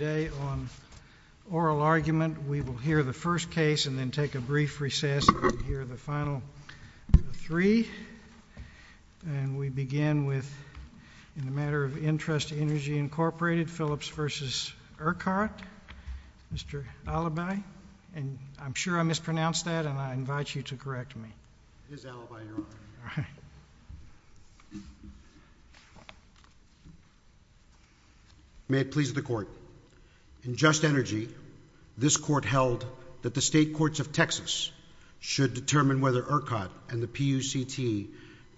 Today on oral argument, we will hear the first case and then take a brief recess and hear the final three. And we begin with, in the matter of interest to Energy Incorporated, Phillips v. Urquhart. Mr. Alibi, and I'm sure I mispronounced that, and I invite you to correct me. It is Alibi, Your Honor. May it please the Court. In just energy, this Court held that the State Courts of Texas should determine whether Urquhart and the PUCT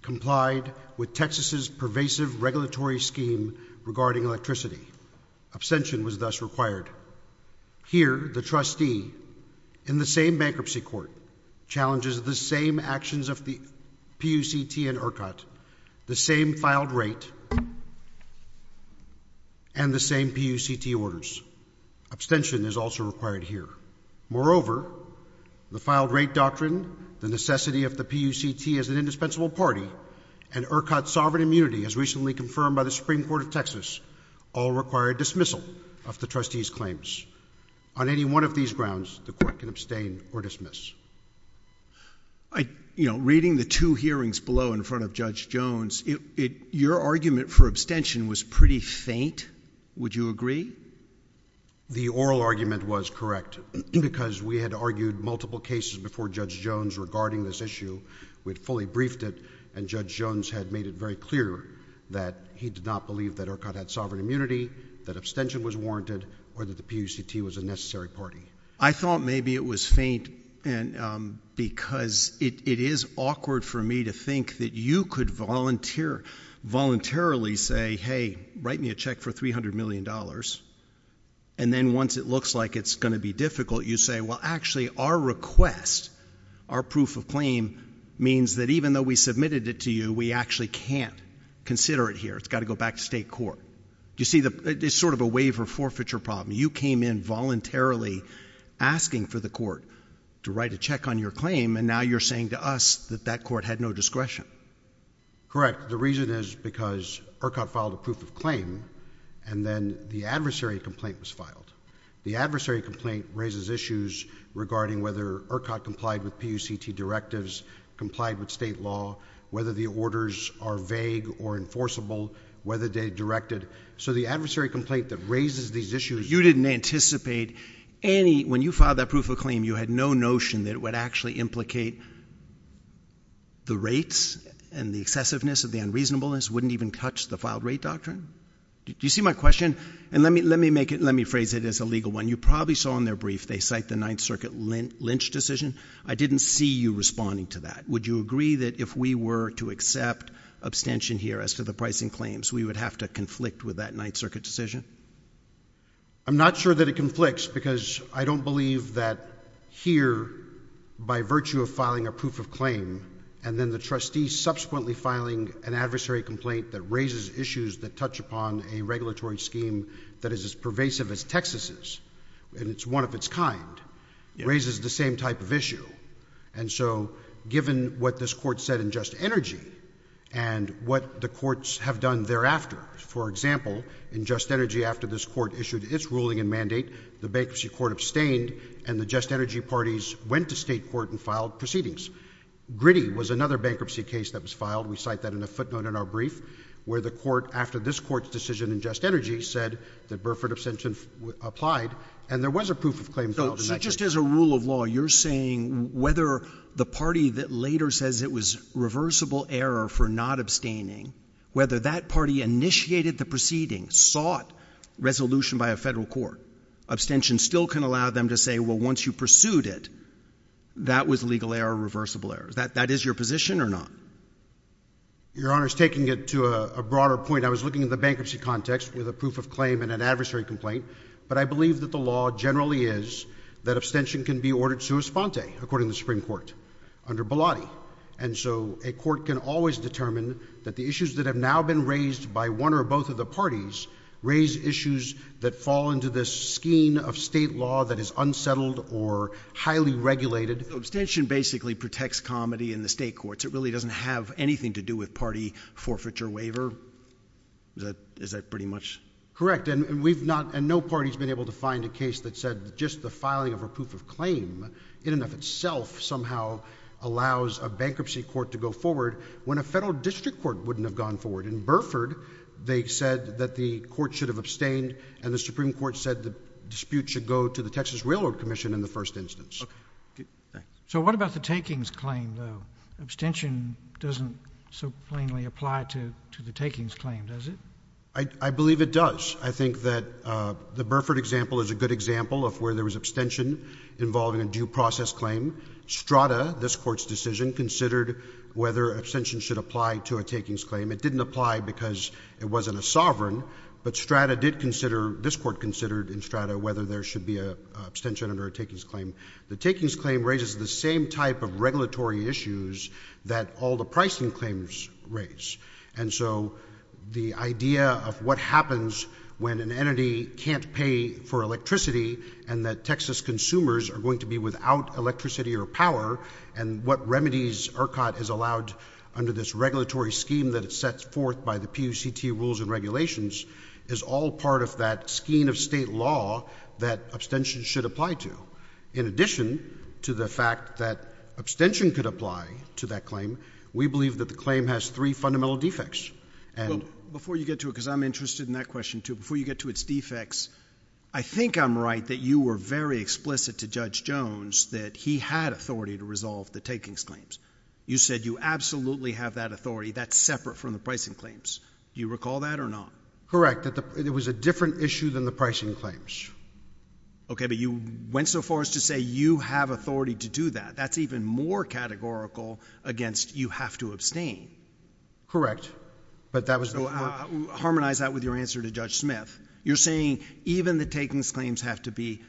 complied with Texas's pervasive regulatory scheme regarding electricity. Abstention was thus required. Here, the trustee, in the same bankruptcy court, challenges the same actions of the PUCT and Urquhart, the same filed rate, and the same PUCT orders. Abstention is also required here. Moreover, the filed rate doctrine, the necessity of the PUCT as an indispensable party, and Urquhart's sovereign immunity, as recently confirmed by the Supreme Court of Texas, all require a dismissal of the trustee's claims. On any one of these grounds, the Court can abstain or dismiss. Reading the two hearings below in front of Judge Jones, your argument for abstention was pretty faint. Would you agree? The oral argument was correct, because we had argued multiple cases before Judge Jones regarding this issue. We had fully briefed it, and Judge Jones had made it very clear that he did not believe that Urquhart had sovereign immunity, that abstention was warranted, or that the PUCT was a necessary party. I thought maybe it was faint because it is awkward for me to think that you could voluntarily say, hey, write me a check for $300 million, and then once it looks like it's going to be difficult, you say, well, actually, our request, our proof of claim, means that even though we submitted it to you, we actually can't consider it here. It's got to go back to state court. You see, it's sort of a waiver forfeiture problem. You came in voluntarily asking for the court to write a check on your claim, and now you're saying to us that that Urquhart filed a proof of claim, and then the adversary complaint was filed. The adversary complaint raises issues regarding whether Urquhart complied with PUCT directives, complied with state law, whether the orders are vague or enforceable, whether they're directed. So the adversary complaint that raises these issues— You didn't anticipate any—when you filed that proof of claim, you had no notion that it would actually implicate the rates and the excessiveness of the unreasonableness, wouldn't even touch the filed rate doctrine? Do you see my question? And let me make it—let me phrase it as a legal one. You probably saw in their brief, they cite the Ninth Circuit lynch decision. I didn't see you responding to that. Would you agree that if we were to accept abstention here as to the pricing claims, we would have to conflict with that Ninth Circuit decision? I'm not sure that it conflicts, because I don't believe that here, by virtue of filing a proof of claim, and then the trustee subsequently filing an adversary complaint that raises issues that touch upon a regulatory scheme that is as pervasive as Texas's, and it's one of its kind, raises the same type of issue. And so, given what this Court said in Just Energy, and what the courts have done thereafter—for example, in Just Energy, after this Court issued its ruling and mandate, the bankruptcy court abstained, and the Just Energy parties went to state court and filed proceedings. Gritty was another bankruptcy case that was filed. We cite that in a footnote in our brief, where the court, after this Court's decision in Just Energy, said that Burford abstention applied, and there was a proof of claim filed in that case. So just as a rule of law, you're saying whether the party that later says it was reversible error for not abstaining, whether that party initiated the proceeding, sought resolution by a federal court, abstention still can allow them to say, well, once you pursued it, that was legal error, reversible error. That is your position or not? Your Honor's taking it to a broader point. I was looking at the bankruptcy context with a proof of claim and an adversary complaint, but I believe that the law generally is that abstention can be ordered sua sponte, according to the Supreme Court, under Bilotti. And so, a court can always determine that the issues that have now been raised by one or both of the parties raise issues that fall into this scheme of state law that is unsettled or highly regulated. Abstention basically protects comedy in the state courts. It really doesn't have anything to do with party forfeiture waiver. Is that, is that pretty much? Correct. And we've not, and no party's been able to find a case that said just the filing of a proof of claim in and of itself somehow allows a bankruptcy court to go forward, when a federal district court wouldn't have gone forward. In Burford, they said that the court should have abstained, and the Supreme Court said the dispute should go to the Texas Railroad Commission in the first instance. So what about the takings claim, though? Abstention doesn't so plainly apply to, to the takings claim, does it? I believe it does. I think that the Burford example is a good example of where there was abstention involving a due process claim. Strada, this Court's decision, considered whether abstention should apply to a takings claim. It didn't apply because it wasn't a sovereign, but Strada did consider, this Court considered in Strada whether there should be an abstention under a takings claim. The takings claim raises the same type of regulatory issues that all the pricing claims raise. And so the idea of what happens when an entity can't pay for electricity, and that Texas consumers are going to be without electricity or power, and what remedies ERCOT has allowed under this regulatory scheme that it sets forth by the PUCT rules and regulations, is all part of that scheme of state law that abstention should apply to. In addition to the fact that abstention could apply to that claim, we believe that the claim has three fundamental defects. Before you get to it, because I'm interested in that question, too, before you get to its You said you absolutely have that authority. That's separate from the pricing claims. Do you recall that or not? Correct. It was a different issue than the pricing claims. Okay, but you went so far as to say you have authority to do that. That's even more categorical against you have to abstain. Correct. But that was the Harmonize that with your answer to Judge Smith. You're saying even the takings claims have to be,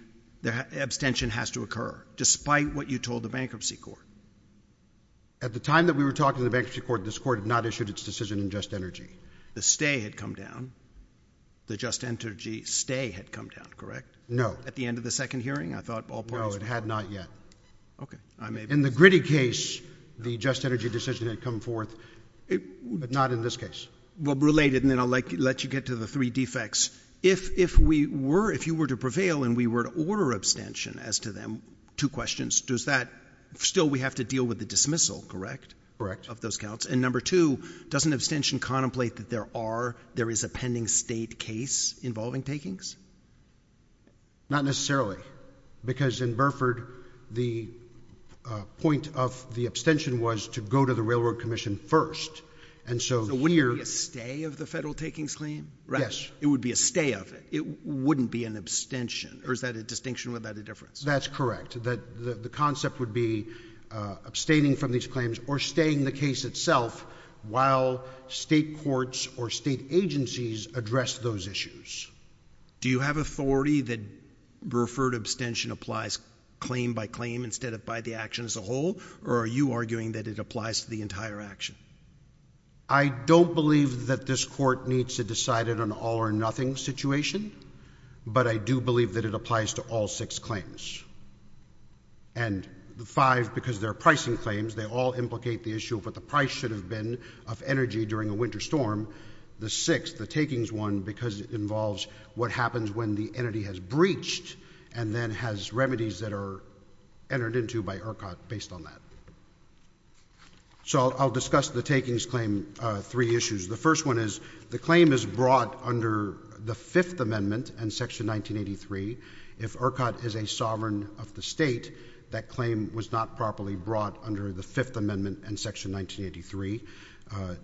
the abstention has to occur, despite what you told the bankruptcy court. At the time that we were talking to the bankruptcy court, this court had not issued its decision in Just Energy. The stay had come down. The Just Energy stay had come down, correct? No. At the end of the second hearing? I thought all parties were No, it had not yet. In the gritty case, the Just Energy decision had come forth, but not in this case. Related, and then I'll let you get to the three defects. If you were to prevail and we were to order abstention as to them, two questions. Does that, still we have to deal with the dismissal, correct, of those counts? And number two, doesn't abstention contemplate that there is a pending state case involving takings? Not necessarily, because in Burford, the point of the abstention was to go to the Railroad Commission first. So, wouldn't it be a stay of the federal takings claim? Yes. It would be a stay of it. It wouldn't be an abstention. Or is that a distinction? Would that be a difference? That's correct. The concept would be abstaining from these claims or staying the case itself while state courts or state agencies address those issues. Do you have authority that Burford abstention applies claim by claim instead of by the action as a whole, or are you arguing that it applies to the entire action? I don't believe that this court needs to decide it on an all or nothing situation, but I do believe that it applies to all six claims. And the five, because they're pricing claims, they all implicate the issue of what the price should have been of energy during a winter storm. The six, the takings one, because it involves what happens when the entity has a problem. So, I'll discuss the takings claim three issues. The first one is, the claim is brought under the Fifth Amendment and Section 1983. If ERCOT is a sovereign of the state, that claim was not properly brought under the Fifth Amendment and Section 1983.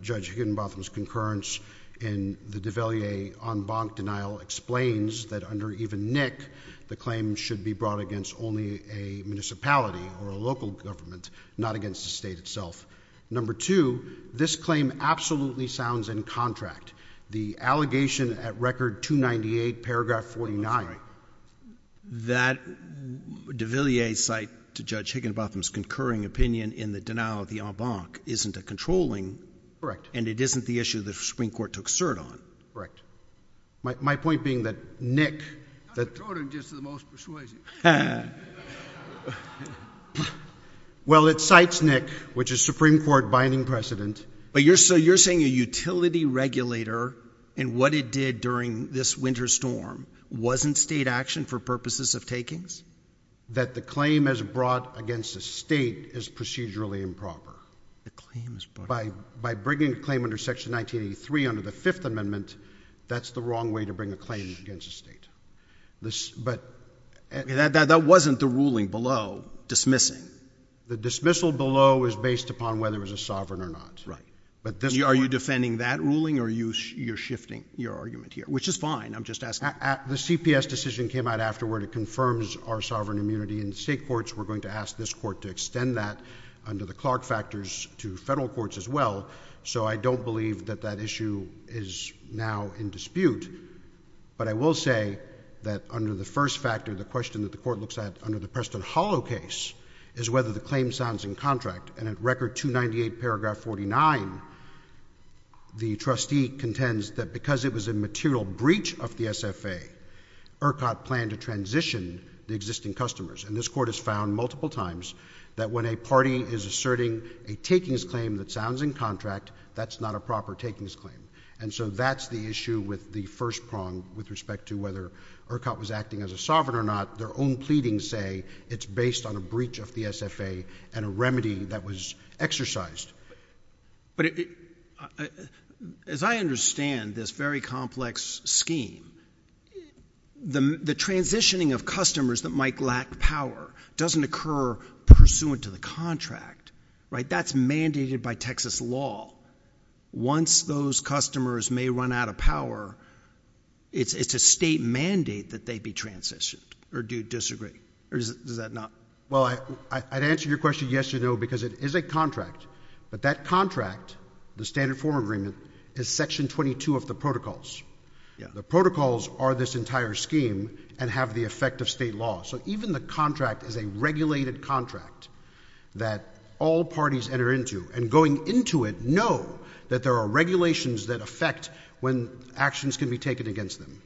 Judge Higginbotham's concurrence in the Devalier en banc denial explains that under even NIC, the claim should be brought against only a municipality or a local government, not against the state itself. Number two, this claim absolutely sounds in contract. The allegation at Record 298, paragraph 49. That Devalier site to Judge Higginbotham's concurring opinion in the denial of the en banc isn't a controlling, and it isn't the issue the Supreme Court took cert on. Correct. My point being that NIC... Not controlling, just the most persuasive. Well, it cites NIC, which is Supreme Court binding precedent. But you're saying a utility regulator and what it did during this winter storm wasn't state action for purposes of takings? That the claim as brought against the state is procedurally improper. The claim is brought... By bringing a claim under Section 1983 under the Fifth Amendment, that's the wrong way to bring a claim against a state. That wasn't the ruling below dismissing. The dismissal below is based upon whether it was a sovereign or not. Are you defending that ruling, or you're shifting your argument here? Which is fine. I'm just asking. The CPS decision came out afterward. It confirms our sovereign immunity in state courts. We're to federal courts as well, so I don't believe that that issue is now in dispute. But I will say that under the first factor, the question that the Court looks at under the Preston Hollow case is whether the claim sounds in contract. And at Record 298, paragraph 49, the trustee contends that because it was a material breach of the SFA, ERCOT planned to transition the existing customers. And this Court has found multiple times that when a party is asserting a takings claim that sounds in contract, that's not a proper takings claim. And so that's the issue with the first prong with respect to whether ERCOT was acting as a sovereign or not. Their own pleadings say it's based on a breach of the SFA and a remedy that was exercised. But as I understand this very complex scheme, the transitioning of customers that might lack power doesn't occur pursuant to the contract, right? That's mandated by Texas law. Once those customers may run out of power, it's a state mandate that they be transitioned. Or do you disagree? Or does that not? Well, I'd answer your question, yes or no, because it is a contract. But that contract, the standard form agreement, is section 22 of the protocols. The protocols are this entire state law. So even the contract is a regulated contract that all parties enter into. And going into it, know that there are regulations that affect when actions can be taken against them.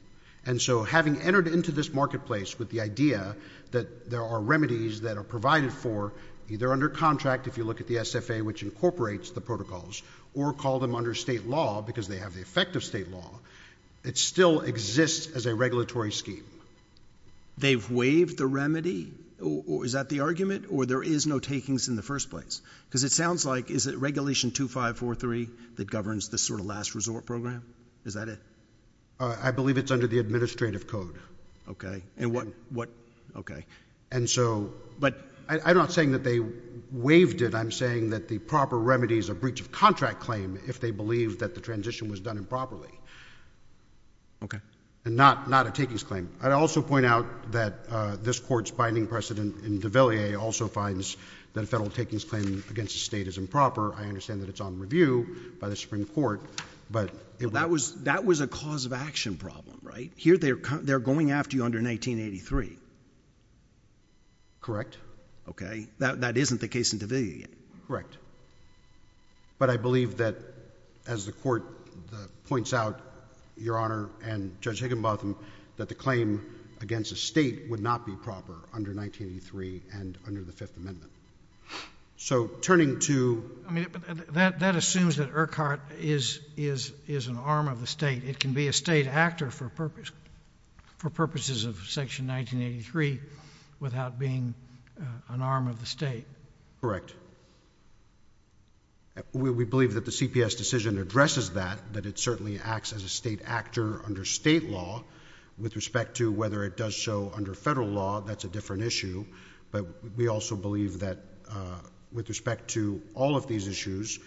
And so having entered into this marketplace with the idea that there are remedies that are provided for either under contract, if you look at the SFA, which incorporates the protocols, or call them under state law because they have the effect of state law, it still exists as a regulatory scheme. They've waived the remedy? Is that the argument? Or there is no takings in the first place? Because it sounds like, is it regulation 2543 that governs this sort of last resort program? Is that it? I believe it's under the administrative code. Okay. And what, okay. And so, I'm not saying that they waived it. I'm saying that the proper remedy is a breach of contract claim if they believe that the transition was done improperly. Okay. And not, not a takings claim. I'd also point out that this Court's binding precedent in de Villiers also finds that a federal takings claim against the state is improper. I understand that it's on review by the Supreme Court. That was, that was a cause of action problem, right? Here they're going after you under 1983. Correct. Okay. That, that isn't the case in de Villiers yet. Correct. But I believe that as the Court points out, Your Honor, and Judge Higginbotham, that the claim against the state would not be proper under 1983 and under the Fifth Amendment. So, turning to I mean, that, that assumes that Urquhart is, is, is an arm of the state. It can be a state actor for purpose, for purposes of Section 1983 without being an arm of the state. Correct. We, we believe that the CPS decision addresses that, that it certainly acts as a state actor under state law. With respect to whether it does so under federal law, that's a different issue. But we also believe that with respect to all of these issues,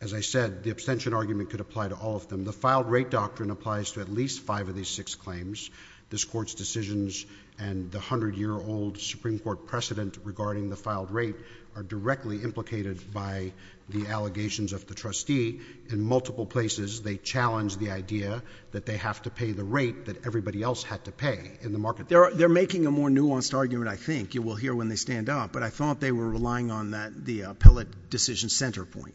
as I said, the abstention argument could apply to all of them. The filed rate doctrine applies to at least five of these six claims. This Court's decisions and the hundred-year-old Supreme Court precedent regarding the filed rate are directly implicated by the allegations of the trustee. In multiple places, they challenge the idea that they have to pay the rate that everybody else had to pay in the market. They're, they're making a more nuanced argument, I think. You will hear when they stand up. But I thought they were relying on that, the appellate decision center point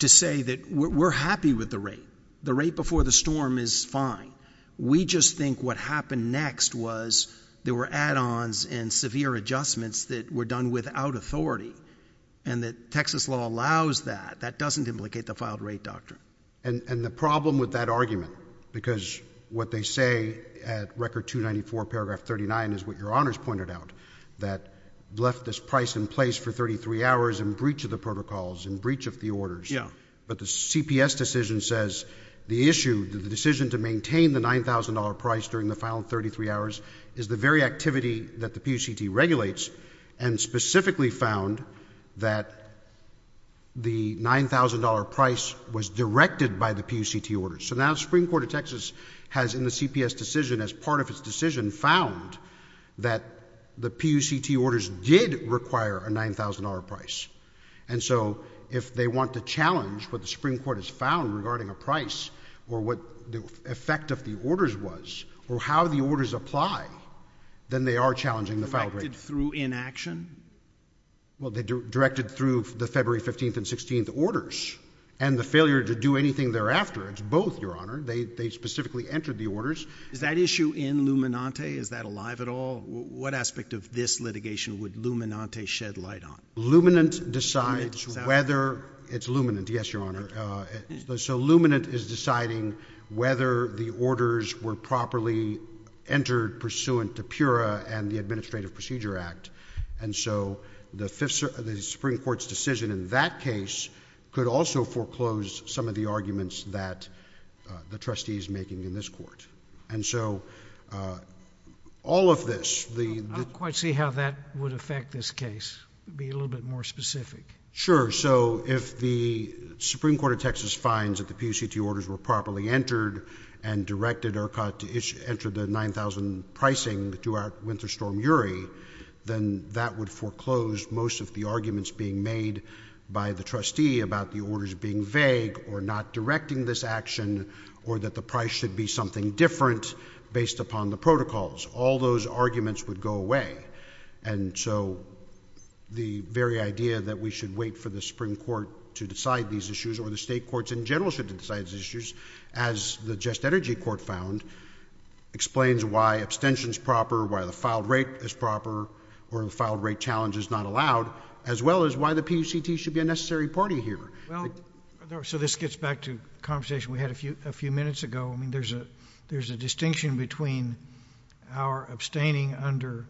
to say that we're, we're happy with the rate. The rate before the storm is fine. We just think what happened next was there were add-ons and severe adjustments that were done without authority. And that Texas law allows that. That doesn't implicate the filed rate doctrine. And, and the problem with that argument, because what they say at Record 294, Paragraph 39 is what Your Honors pointed out, that left this price in place for 33 hours in breach of the protocols, in breach of the orders. Yeah. But the CPS decision says the issue, the decision to maintain the $9,000 price during the filed 33 hours is the very activity that the PUCT regulates and specifically found that the $9,000 price was directed by the PUCT orders. So now the Supreme Court of Texas has in the CPS decision, as part of its decision, found that the PUCT orders did require a $9,000 price. And so if they want to challenge what the Supreme Court has found regarding a price or what the effect of the orders was or how the orders apply, then they are challenging the filed rate. Directed through inaction? Well, they directed through the February 15th and 16th orders and the failure to do anything thereafter. It's both, Your Honor. They, they specifically entered the orders. Is that issue in Luminante? Is that alive at all? What aspect of this litigation would Luminante shed light on? Luminante decides whether, it's Luminante, yes, Your Honor. So Luminante is deciding whether the orders were properly entered pursuant to Pura and the Administrative Procedure Act. And so the fifth, the Supreme Court's decision in that case could also foreclose some of the arguments that the trustee is making in this court. And so all of this, the, the I'd like to see how that would affect this case. Be a little bit more specific. Sure. So if the Supreme Court of Texas finds that the PUCT orders were properly entered and directed or caught to issue, enter the 9,000 pricing to our Winter Storm URI, then that would foreclose most of the arguments being made by the trustee about the orders being vague or not directing this action or that the price should be something different based upon the protocols. All those arguments would go away. And so the very idea that we should wait for the Supreme Court to decide these issues, or the state courts in general should decide these issues, as the Just Energy Court found, explains why abstention's proper, why the filed rate is proper, or the filed rate challenge is not allowed, as well as why the PUCT should be a necessary party here. Well, so this gets back to a conversation we had a few, a few minutes ago. I mean, there's a distinction between our abstaining under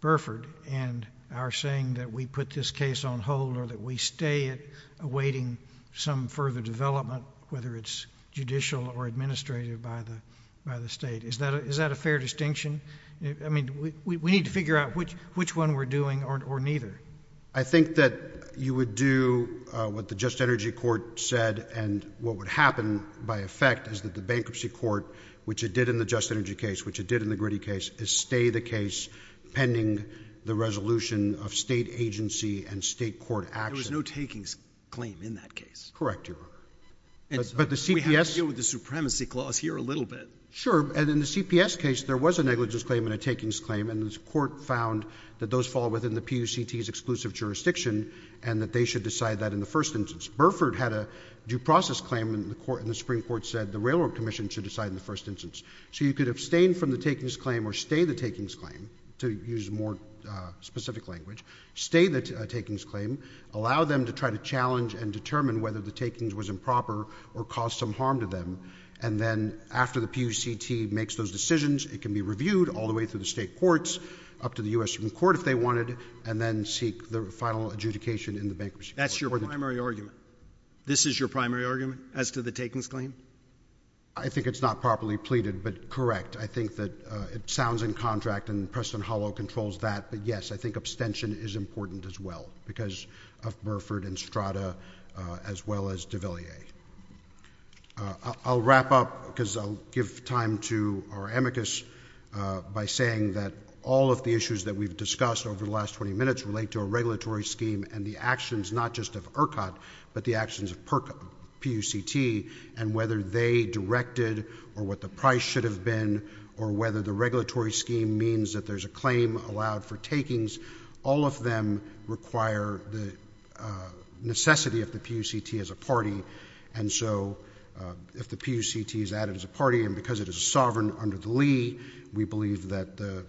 Burford and our saying that we put this case on hold or that we stay it awaiting some further development, whether it's judicial or administrative by the state. Is that a fair distinction? I mean, we need to figure out which one we're doing or neither. I think that you would do what the Just Energy Court said and what would happen by effect is that the bankruptcy court, which it did in the Just Energy case, which it did in the Gritty case, is stay the case pending the resolution of state agency and state court action. There was no takings claim in that case. Correct, Your Honor. But the CPS— We have to deal with the supremacy clause here a little bit. Sure. And in the CPS case, there was a negligence claim and a takings claim, and the court found that those fall within the PUCT's exclusive jurisdiction and that they should decide that in the first instance. Burford had a due process claim in the court, and the Supreme Court said the Railroad Commission should decide in the first instance. So you could abstain from the takings claim or stay the takings claim, to use more specific language, stay the takings claim, allow them to try to challenge and determine whether the takings was improper or caused some harm to them, and then after the PUCT makes those decisions, it can be reviewed all the way through the state courts, up to the U.S. Supreme Court if they wanted, and then seek the final adjudication in the bankruptcy court. That's your primary argument? This is your primary argument as to the takings claim? I think it's not properly pleaded, but correct. I think that it sounds in contract and Preston Hollow controls that, but yes, I think abstention is important as well because of Burford and Strada as well as DeVilliers. I'll wrap up because I'll give time to our amicus by saying that all of the issues that we've discussed over the last 20 minutes relate to a regulatory scheme and the actions not just of ERCOT, but the actions of PUCT, and whether they directed or what the price should have been or whether the regulatory scheme means that there's a claim allowed for takings, all of them require the necessity of the PUCT as a party, and so if the PUCT is added as a party and because it is sovereign under the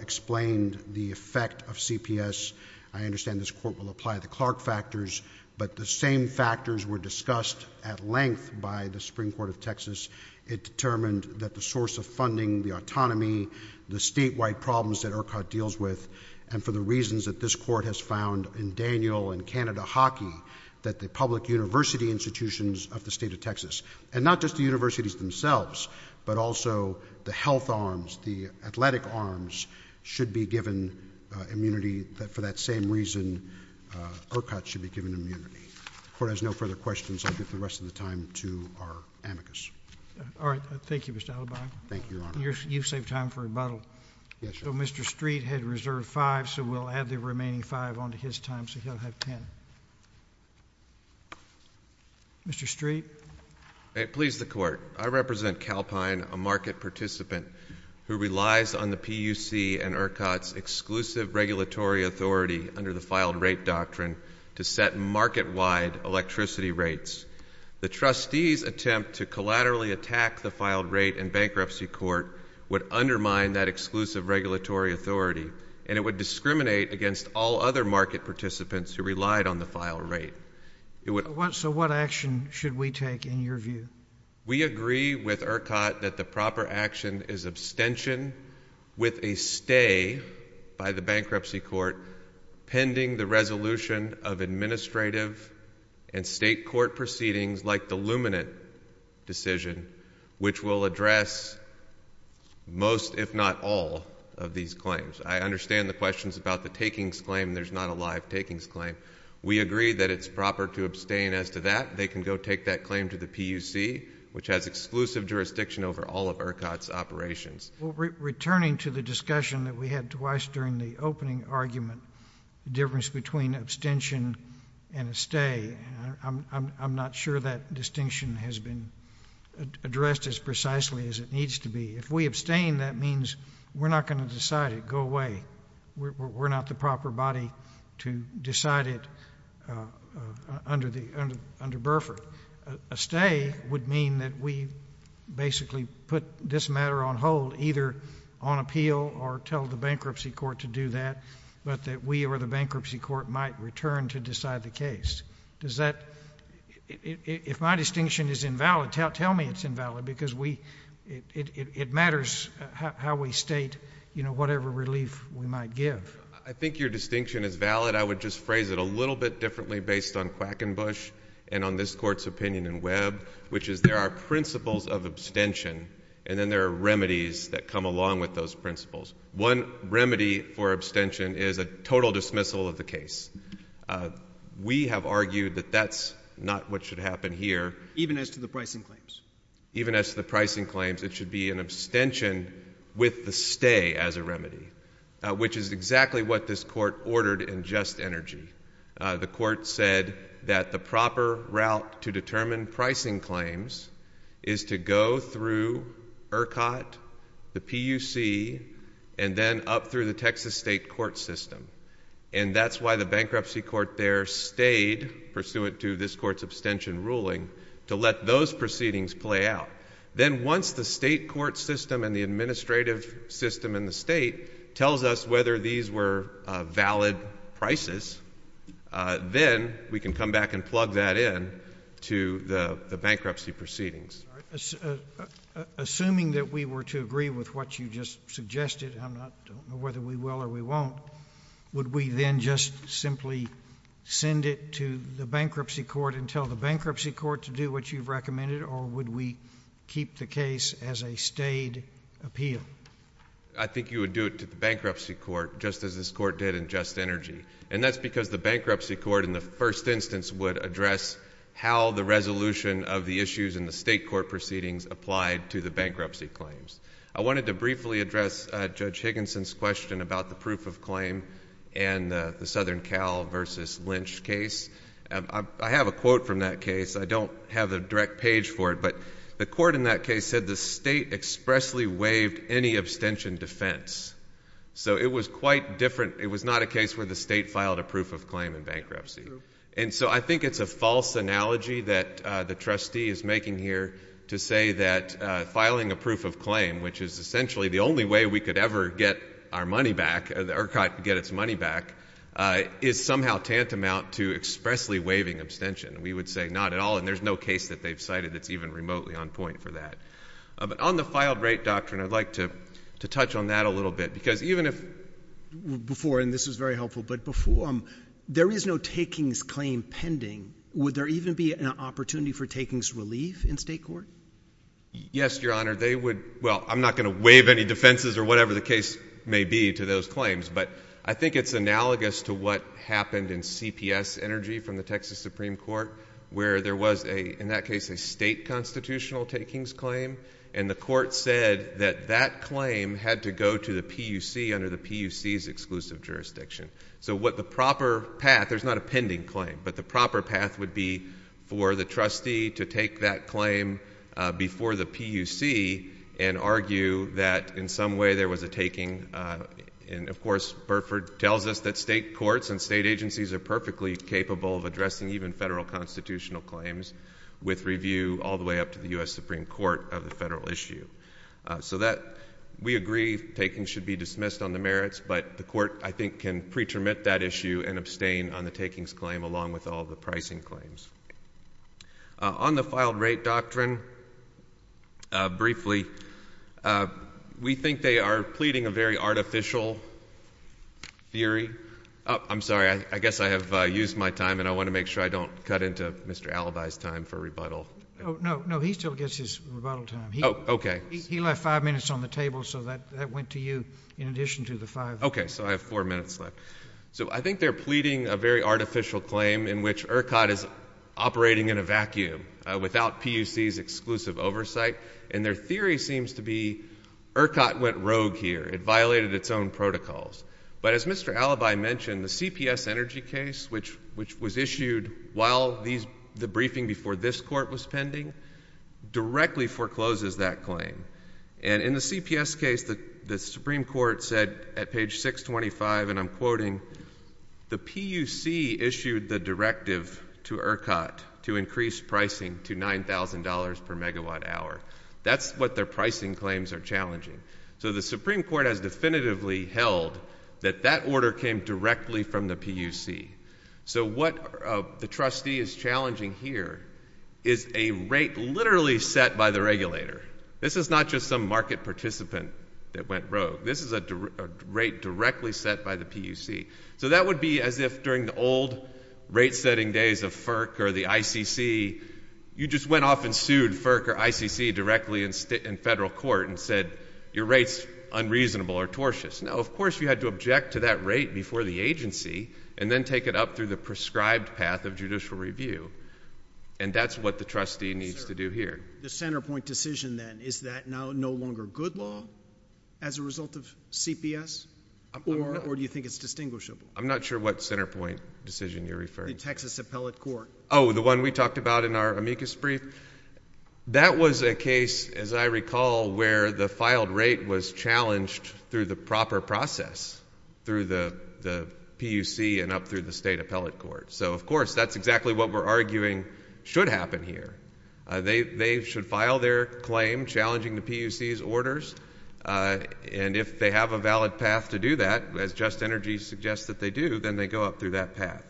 explained the effect of CPS. I understand this Court will apply the Clark factors, but the same factors were discussed at length by the Supreme Court of Texas. It determined that the source of funding, the autonomy, the statewide problems that ERCOT deals with, and for the reasons that this Court has found in Daniel and Canada Hockey, that the public university institutions of the state of Texas, and not just the universities themselves, but also the health arms, the athletic arms, should be given immunity for that same reason ERCOT should be given immunity. The Court has no further questions. I'll give the rest of the time to our amicus. All right. Thank you, Mr. Hildebrand. Thank you, Your Honor. You've saved time for rebuttal. Yes, Your Honor. So Mr. Street had reserved five, so we'll add the remaining five onto his time, so he'll have ten. Mr. Street. May it please the Court. I represent Calpine, a market participant who relies on the PUC and ERCOT's exclusive regulatory authority under the filed rate doctrine to set market-wide electricity rates. The trustee's attempt to collaterally attack the filed rate in bankruptcy court would undermine that exclusive regulatory authority, and it would discriminate against all other market participants who relied on the filed rate. So what action should we take, in your view? We agree with ERCOT that the proper action is abstention with a stay by the bankruptcy court pending the resolution of administrative and state court proceedings like the Luminant decision, which will address most, if not all, of these claims. I understand the questions about the takings claim. There's not a live takings claim. We agree that it's proper to abstain as to that. They can go take that claim to the PUC, which has exclusive jurisdiction over all of ERCOT's operations. Returning to the discussion that we had twice during the opening argument, the difference between abstention and a stay, I'm not sure that distinction has been addressed as precisely as it needs to be. If we abstain, that means we're not going to decide it. Go away. We're not the proper body to decide it under Burford. A stay would mean that we basically put this matter on hold, either on appeal or tell the bankruptcy court to do that, but that we or the bankruptcy court might return to decide the case. If my distinction is invalid, tell me it's invalid because it matters how we state whatever relief we might give. I think your distinction is valid. I would just phrase it a little bit differently based on Quackenbush and on this Court's opinion in Webb, which is there are principles of abstention, and then there are remedies that come along with those principles. One remedy for abstention is a total dismissal of the case. We have argued that that's not what should happen here. Even as to the pricing claims? Even as to the pricing claims, it should be an abstention with the stay as a remedy, which is exactly what this Court ordered in Just Energy. The Court said that the proper route to determine pricing claims is to go through ERCOT, the PUC, and then up through the Texas State court system, and that's why the bankruptcy court there stayed pursuant to this Court's order to let those proceedings play out. Then once the state court system and the administrative system in the state tells us whether these were valid prices, then we can come back and plug that in to the bankruptcy proceedings. Assuming that we were to agree with what you just suggested, I don't know whether we will or we won't, would we then just simply send it to the bankruptcy court and tell the bankruptcy court to do what you've recommended, or would we keep the case as a stayed appeal? I think you would do it to the bankruptcy court, just as this Court did in Just Energy. And that's because the bankruptcy court in the first instance would address how the resolution of the issues in the state court proceedings applied to the bankruptcy claims. I wanted to briefly address Judge Higginson's question about the proof of claim and the abstention. I don't have the direct page for it, but the court in that case said the state expressly waived any abstention defense. So it was quite different. It was not a case where the state filed a proof of claim in bankruptcy. And so I think it's a false analogy that the trustee is making here to say that filing a proof of claim, which is essentially the only way we could ever get our money back or get its money back, is somehow tantamount to expressly waiving abstention. We would say not at all, and there's no case that they've cited that's even remotely on point for that. But on the filed rate doctrine, I'd like to touch on that a little bit, because even if Before, and this was very helpful, but before, there is no takings claim pending. Would there even be an opportunity for takings relief in state court? Yes, Your Honor. They would, well, I'm not going to waive any defenses or whatever the case may be to those claims, but I think it's analogous to what happened in CPS Energy from the Texas Supreme Court, where there was a, in that case, a state constitutional takings claim, and the court said that that claim had to go to the PUC under the PUC's exclusive jurisdiction. So what the proper path, there's not a pending claim, but the proper path would be for the trustee to take that claim before the PUC and argue that in some way there was a taking, and, of course, Burford tells us that state courts and state agencies are perfectly capable of addressing even federal constitutional claims with review all the way up to the U.S. Supreme Court of the federal issue. So that, we agree takings should be dismissed on the merits, but the court, I think, can pretermit that issue and abstain on the takings claim along with all the pricing claims. On the filed rate doctrine, briefly, we think they are pleading a very artificial theory. I'm sorry, I guess I have used my time, and I want to make sure I don't cut into Mr. Alibi's time for rebuttal. Oh, no, no, he still gets his rebuttal time. Oh, okay. He left five minutes on the table, so that went to you in addition to the five. Okay, so I have four minutes left. So I think they're pleading a very artificial claim in which ERCOT is operating in a vacuum without PUC's exclusive oversight, and their theory seems to be ERCOT went rogue here. It violated its own protocols. But as Mr. Alibi mentioned, the CPS energy case, which was issued while the briefing before this court was pending, directly forecloses that claim. And in the CPS case, the Supreme Court said at page 625, and I'm quoting, the PUC issued the directive to ERCOT to increase pricing to $9,000 per megawatt hour. That's what their pricing claims are challenging. So the Supreme Court has definitively held that that order came directly from the PUC. So what the trustee is challenging here is a rate literally set by the regulator. This is not just some market participant that went rogue. This is a rate directly set by the PUC. So that would be as if during the old rate-setting days of FERC or the ICC, you just went off and sued FERC or ICC directly in federal court and said your rate's unreasonable or tortious. Now, of course, you had to object to that rate before the agency and then take it up through the prescribed path of judicial review, and that's what the trustee needs to do here. The Centerpoint decision then, is that now no longer good law as a result of CPS, or do you think it's distinguishable? I'm not sure what Centerpoint decision you're referring to. The Texas Appellate Court. Oh, the one we talked about in our amicus brief? That was a case, as I recall, where the filed rate was challenged through the proper process, through the PUC and up through the state appellate court. So, of course, that's exactly what we're arguing should happen here. They should file their claim challenging the PUC's orders, and if they have a valid path to do that, as Just Energy suggests that they do, then they go up through that path.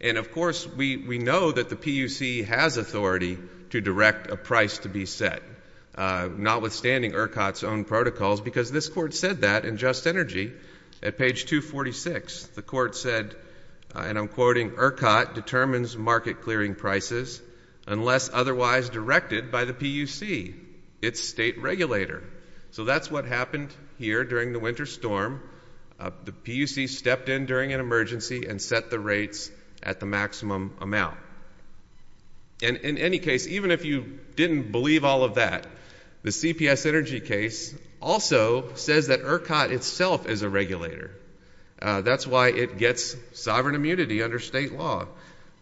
And, of course, we know that the PUC has authority to direct a price to be set, notwithstanding ERCOT's own protocols, because this court said that in Just Energy at page 246. The court said, and I'm quoting, ERCOT determines market clearing prices unless otherwise directed by the PUC, its state regulator. So that's what happened here during the winter storm. The PUC stepped in during an emergency and set the rates at the maximum amount. And in any case, even if you didn't believe all of that, the CPS Energy case also says that ERCOT itself is a regulator. That's why it gets sovereign immunity under state law.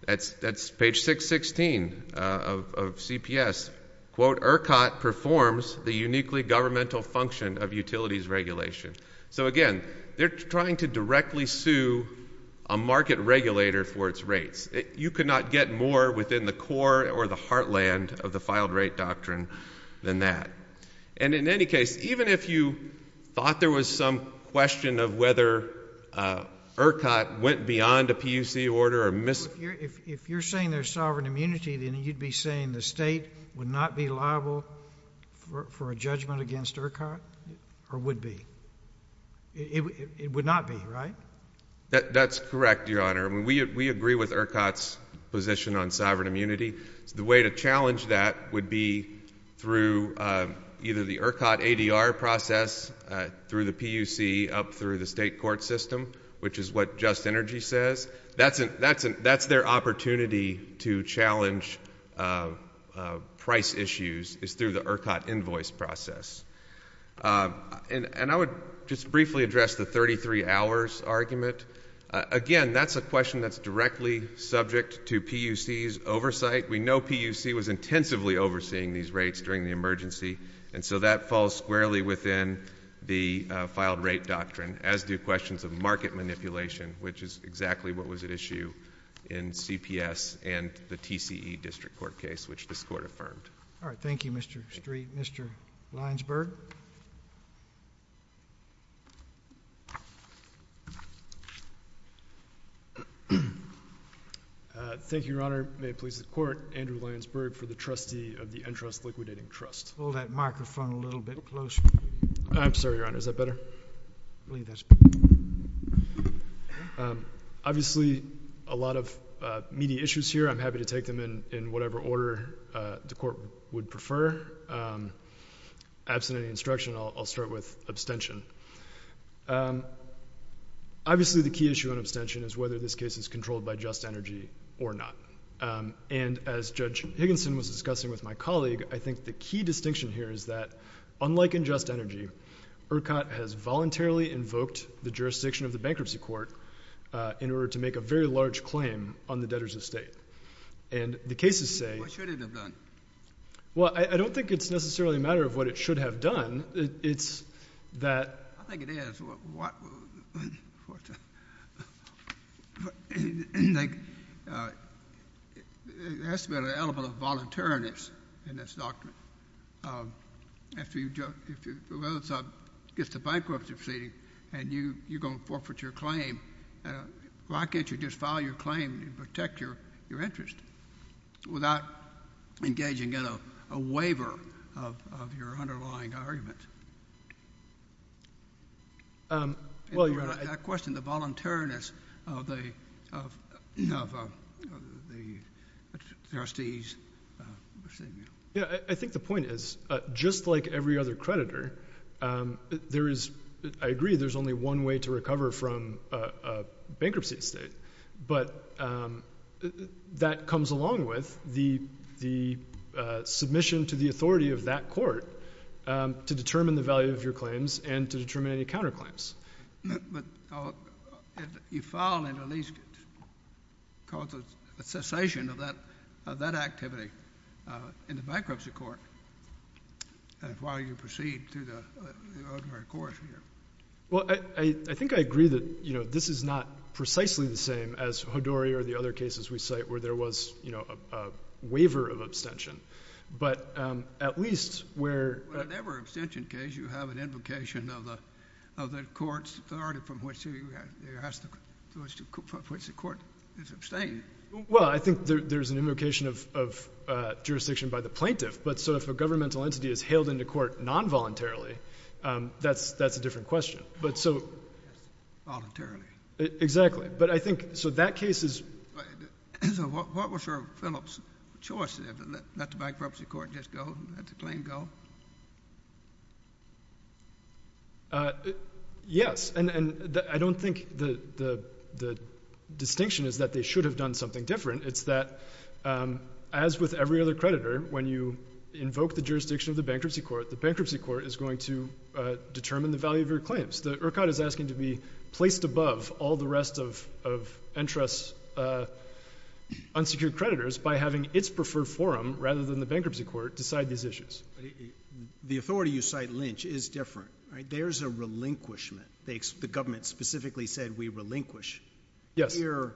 That's page 616 of CPS. Quote, ERCOT performs the uniquely governmental function of utilities regulation. So, again, they're trying to directly sue a market regulator for its rates. You could not get more within the core or the heartland of the filed rate doctrine than that. And in any case, even if you thought there was some question of whether ERCOT went beyond a PUC order or missed it. If you're saying there's sovereign immunity, then you'd be saying the state would not be liable for a judgment against ERCOT? Or would be? It would not be, right? That's correct, Your Honor. We agree with ERCOT's position on sovereign immunity. The way to challenge that would be through either the ERCOT ADR process through the PUC up through the state court system, which is what Just Energy says. That's their opportunity to challenge price issues is through the ERCOT invoice process. And I would just briefly address the 33 hours argument. Again, that's a question that's directly subject to PUC's oversight. We know PUC was intensively overseeing these rates during the emergency. And so that falls squarely within the filed rate doctrine, as do questions of market manipulation, which is exactly what was at issue in CPS and the TCE district court case, which this court affirmed. All right. Thank you, Mr. Street. Mr. Lyons-Berg? Thank you, Your Honor. May it please the court, Andrew Lyons-Berg for the trustee of the Entrust Liquidating Trust. Pull that microphone a little bit closer. I'm sorry, Your Honor. Is that better? I believe that's better. Obviously, a lot of meaty issues here. I'm happy to take them in whatever order the court would prefer. Absent any instruction, I'll start with abstention. Obviously, the key issue on abstention is whether this case is controlled by Just Energy or not. And as Judge Higginson was discussing with my colleague, I think the key distinction here is that unlike in Just Energy, ERCOT has voluntarily invoked the jurisdiction of the bankruptcy court in order to make a very large claim on the debtors of state. And the cases say — What should it have done? Well, I don't think it's necessarily a matter of what it should have done. It's that — I think it is. It has to be an element of voluntariness in this document. If the bankruptcy proceeding and you're going to forfeit your claim, why can't you just file your claim and protect your interest without engaging in a waiver of your underlying argument? That question, the voluntariness of the trustee's procedure. Yeah. I think the point is just like every other creditor, there is — I agree there's only one way to recover from a bankruptcy estate. But that comes along with the submission to the authority of that court to determine the value of your claims and to determine any counterclaims. But you file and at least cause a cessation of that activity in the bankruptcy court while you proceed through the ordinary course here. Well, I think I agree that this is not precisely the same as Hodori or the other cases we cite where there was a waiver of abstention. But at least where — In every abstention case, you have an invocation of the court's authority from which the court is abstained. Well, I think there's an invocation of jurisdiction by the plaintiff. But so if a governmental entity is hailed into court non-voluntarily, that's a different question. Voluntarily. Exactly. But I think so that case is — So what was Phillips' choice there, to let the bankruptcy court just go, let the claim go? Yes. And I don't think the distinction is that they should have done something different. It's that as with every other creditor, when you invoke the jurisdiction of the bankruptcy court, the bankruptcy court is going to determine the value of your claims. The ERCOT is asking to be placed above all the rest of Entrust's unsecured creditors by having its preferred forum rather than the bankruptcy court decide these issues. The authority you cite, Lynch, is different, right? There's a relinquishment. The government specifically said we relinquish. Yes. But here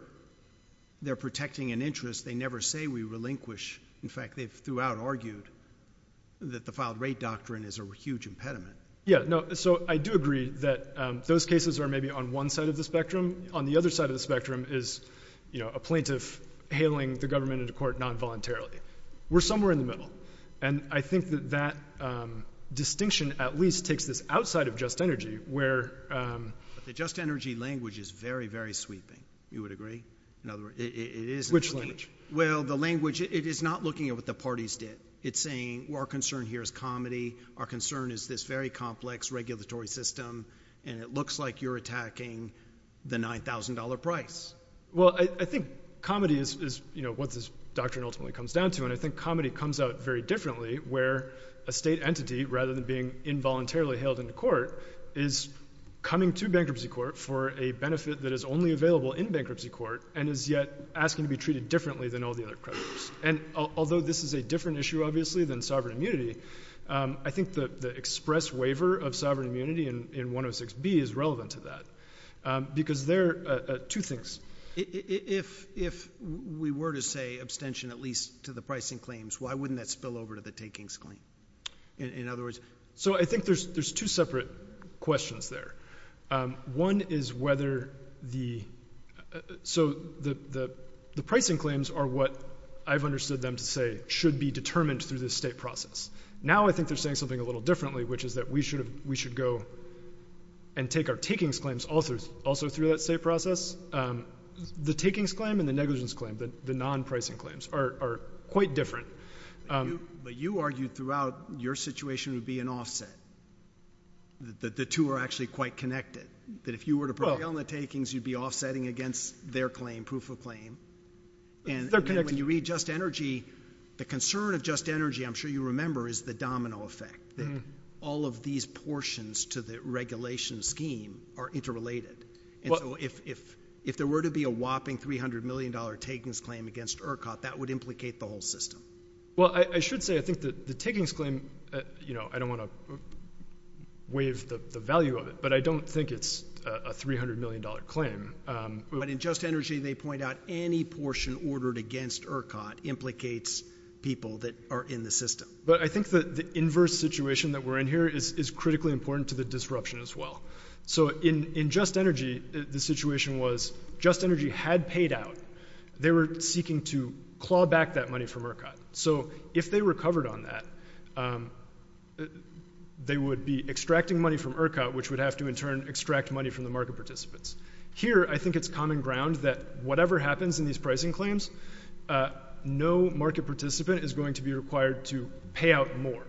they're protecting an interest. They never say we relinquish. In fact, they've throughout argued that the filed rate doctrine is a huge impediment. Yeah. So I do agree that those cases are maybe on one side of the spectrum. On the other side of the spectrum is a plaintiff hailing the government into court non-voluntarily. We're somewhere in the middle. And I think that that distinction at least takes this outside of Just Energy, where — The Just Energy language is very, very sweeping. You would agree? In other words, it is — Which language? Well, the language, it is not looking at what the parties did. It's saying, well, our concern here is comedy. Our concern is this very complex regulatory system, and it looks like you're attacking the $9,000 price. Well, I think comedy is what this doctrine ultimately comes down to. And I think comedy comes out very differently where a state entity, rather than being involuntarily hailed into court, is coming to bankruptcy court for a benefit that is only available in bankruptcy court and is yet asking to be treated differently than all the other creditors. And although this is a different issue, obviously, than sovereign immunity, I think the express waiver of sovereign immunity in 106B is relevant to that because there are two things. If we were to say abstention at least to the pricing claims, why wouldn't that spill over to the takings claim? In other words — So I think there's two separate questions there. One is whether the — So the pricing claims are what I've understood them to say should be determined through the state process. Now I think they're saying something a little differently, which is that we should go and take our takings claims also through that state process. The takings claim and the negligence claim, the non-pricing claims, are quite different. But you argued throughout your situation would be an offset, that the two are actually quite connected, that if you were to prevail in the takings, you'd be offsetting against their claim, proof of claim. They're connected. When you read Just Energy, the concern of Just Energy, I'm sure you remember, is the domino effect, that all of these portions to the regulation scheme are interrelated. And so if there were to be a whopping $300 million takings claim against ERCOT, that would implicate the whole system. Well, I should say I think that the takings claim — you know, I don't want to waive the value of it, but I don't think it's a $300 million claim. But in Just Energy, they point out any portion ordered against ERCOT implicates people that are in the system. But I think that the inverse situation that we're in here is critically important to the disruption as well. So in Just Energy, the situation was Just Energy had paid out. They were seeking to claw back that money from ERCOT. So if they recovered on that, they would be extracting money from ERCOT, which would have to in turn extract money from the market participants. Here, I think it's common ground that whatever happens in these pricing claims, no market participant is going to be required to pay out more.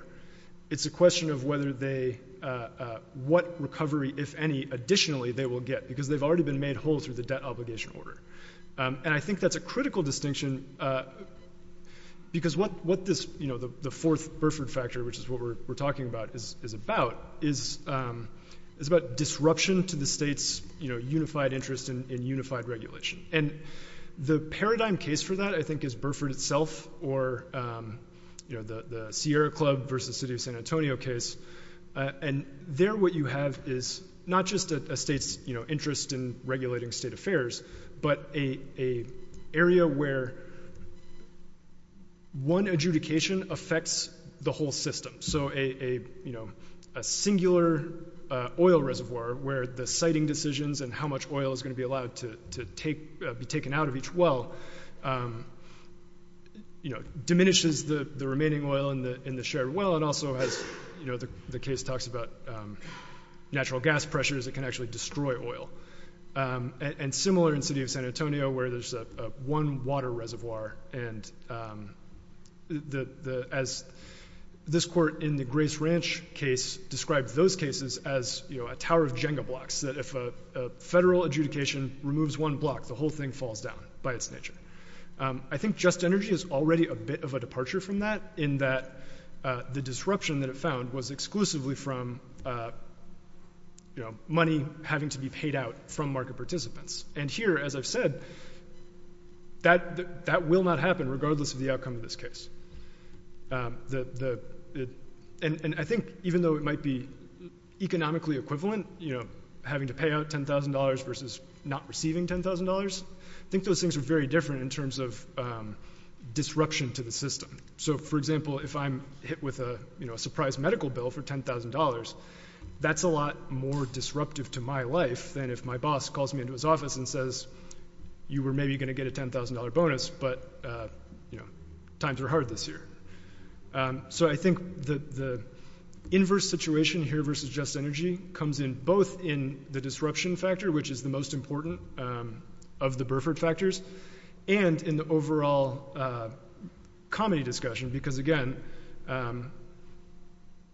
It's a question of whether they — what recovery, if any, additionally they will get, because they've already been made whole through the debt obligation order. And I think that's a critical distinction, because what this — you know, the fourth Burford factor, which is what we're talking about, is about disruption to the state's unified interest in unified regulation. And the paradigm case for that, I think, is Burford itself or the Sierra Club versus City of San Antonio case. And there what you have is not just a state's interest in regulating state affairs, but an area where one adjudication affects the whole system. So a singular oil reservoir where the siting decisions and how much oil is going to be allowed to be taken out of each well, you know, diminishes the remaining oil in the shared well and also has — you know, the case talks about natural gas pressures that can actually destroy oil. And similar in City of San Antonio where there's one water reservoir. And as this court in the Grace Ranch case described those cases as, you know, a tower of Jenga blocks, that if a federal adjudication removes one block, the whole thing falls down by its nature. I think Just Energy is already a bit of a departure from that in that the disruption that it found was exclusively from, you know, money having to be paid out from market participants. And here, as I've said, that will not happen regardless of the outcome of this case. And I think even though it might be economically equivalent, you know, having to pay out $10,000 versus not receiving $10,000, I think those things are very different in terms of disruption to the system. So, for example, if I'm hit with a, you know, a surprise medical bill for $10,000, that's a lot more disruptive to my life than if my boss calls me into his office and says, you were maybe going to get a $10,000 bonus, but, you know, times are hard this year. So I think the inverse situation here versus Just Energy comes in both in the disruption factor, which is the most important of the Burford factors, and in the overall comedy discussion, because, again,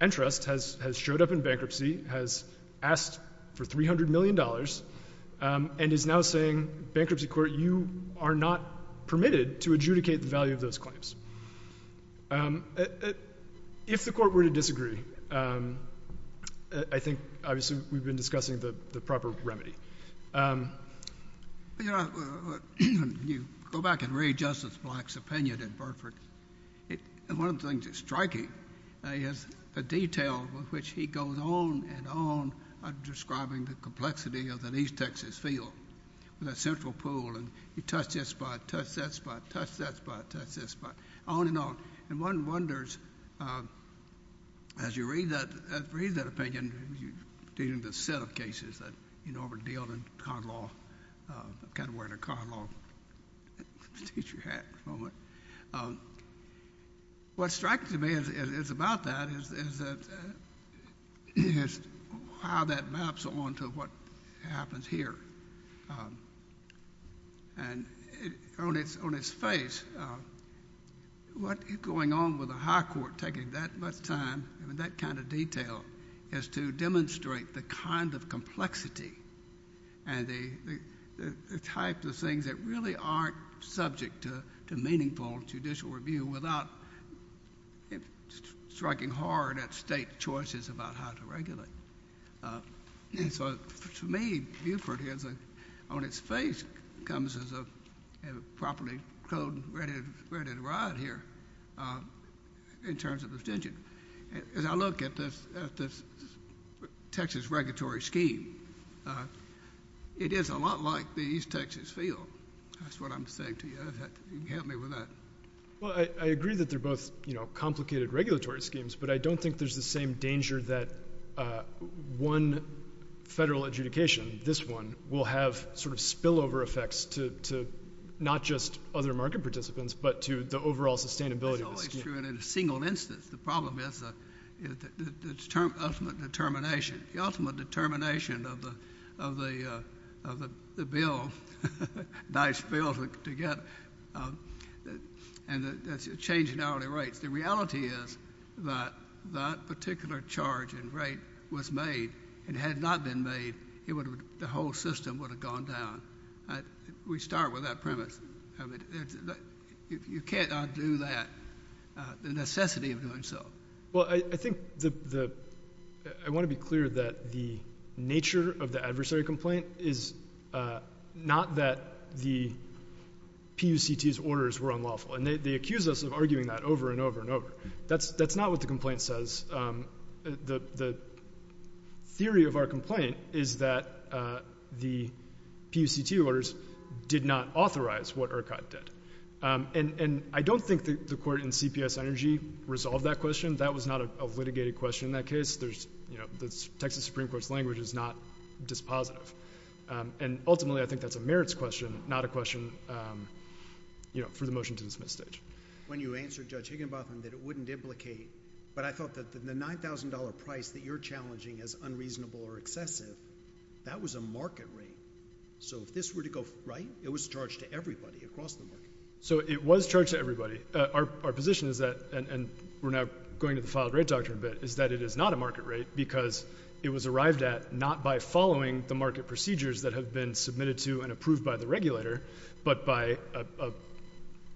Entrust has showed up in bankruptcy, has asked for $300 million, and is now saying, bankruptcy court, you are not permitted to adjudicate the value of those claims. If the court were to disagree, I think, obviously, we've been discussing the proper remedy. You know, you go back and read Justice Black's opinion in Burford, and one of the things that's striking is the detail with which he goes on and on describing the complexity of an East Texas field with a central pool, and you touch that spot, touch that spot, touch that spot, touch that spot, on and on. And one wonders, as you read that opinion, you're dealing with a set of cases that, you know, were dealt in con law. I'm kind of wearing a con law teacher hat at the moment. What strikes me is about that is how that maps on to what happens here. And on its face, what is going on with a high court taking that much time and that kind of detail is to demonstrate the kind of complexity and the types of things that really aren't subject to meaningful judicial review without striking hard at state choices about how to regulate. And so, to me, Burford, on its face, comes as a properly clothed and ready to ride here in terms of the decision. As I look at this Texas regulatory scheme, it is a lot like the East Texas field. That's what I'm saying to you. You can help me with that. Well, I agree that they're both, you know, complicated regulatory schemes, but I don't think there's the same danger that one federal adjudication, this one, will have sort of spillover effects to not just other market participants, but to the overall sustainability of the scheme. That's always true, and in a single instance. The problem is the ultimate determination. The ultimate determination of the bill, Dice bill, to get changing hourly rates. The reality is that that particular charge and rate was made. If it had not been made, the whole system would have gone down. We start with that premise. You cannot do that, the necessity of doing so. Well, I think I want to be clear that the nature of the adversary complaint is not that the PUCT's orders were unlawful. And they accuse us of arguing that over and over and over. That's not what the complaint says. The theory of our complaint is that the PUCT orders did not authorize what ERCOT did. And I don't think the court in CPS Energy resolved that question. That was not a litigated question in that case. The Texas Supreme Court's language is not dispositive. And ultimately, I think that's a merits question, not a question for the motion to dismiss stage. When you answered Judge Higginbotham that it wouldn't implicate, but I thought that the $9,000 price that you're challenging as unreasonable or excessive, that was a market rate. So if this were to go right, it was charged to everybody across the board. So it was charged to everybody. Our position is that, and we're now going to the filed rate doctrine a bit, is that it is not a market rate because it was arrived at not by following the market procedures that have been submitted to and approved by the regulator, but by a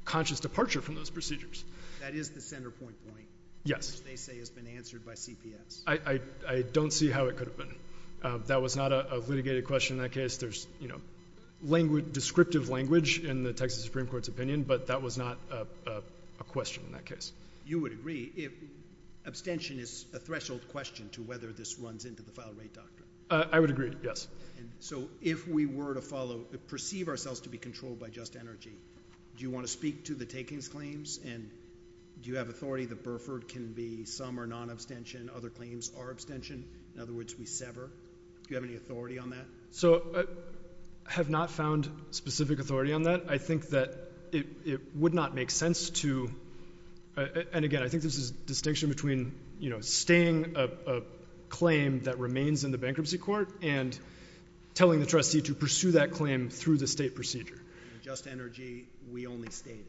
conscious departure from those procedures. That is the center point point. Yes. Which they say has been answered by CPS. I don't see how it could have been. That was not a litigated question in that case. There's descriptive language in the Texas Supreme Court's opinion, but that was not a question in that case. You would agree if abstention is a threshold question to whether this runs into the filed rate doctrine. I would agree, yes. So if we were to follow, perceive ourselves to be controlled by just energy, do you want to speak to the takings claims and do you have authority that Burford can be some or non-abstention, other claims are abstention? In other words, we sever. Do you have any authority on that? So I have not found specific authority on that. I think that it would not make sense to, and again, I think there's a distinction between, you know, the claim that remains in the bankruptcy court and telling the trustee to pursue that claim through the state procedure. In just energy, we only stayed.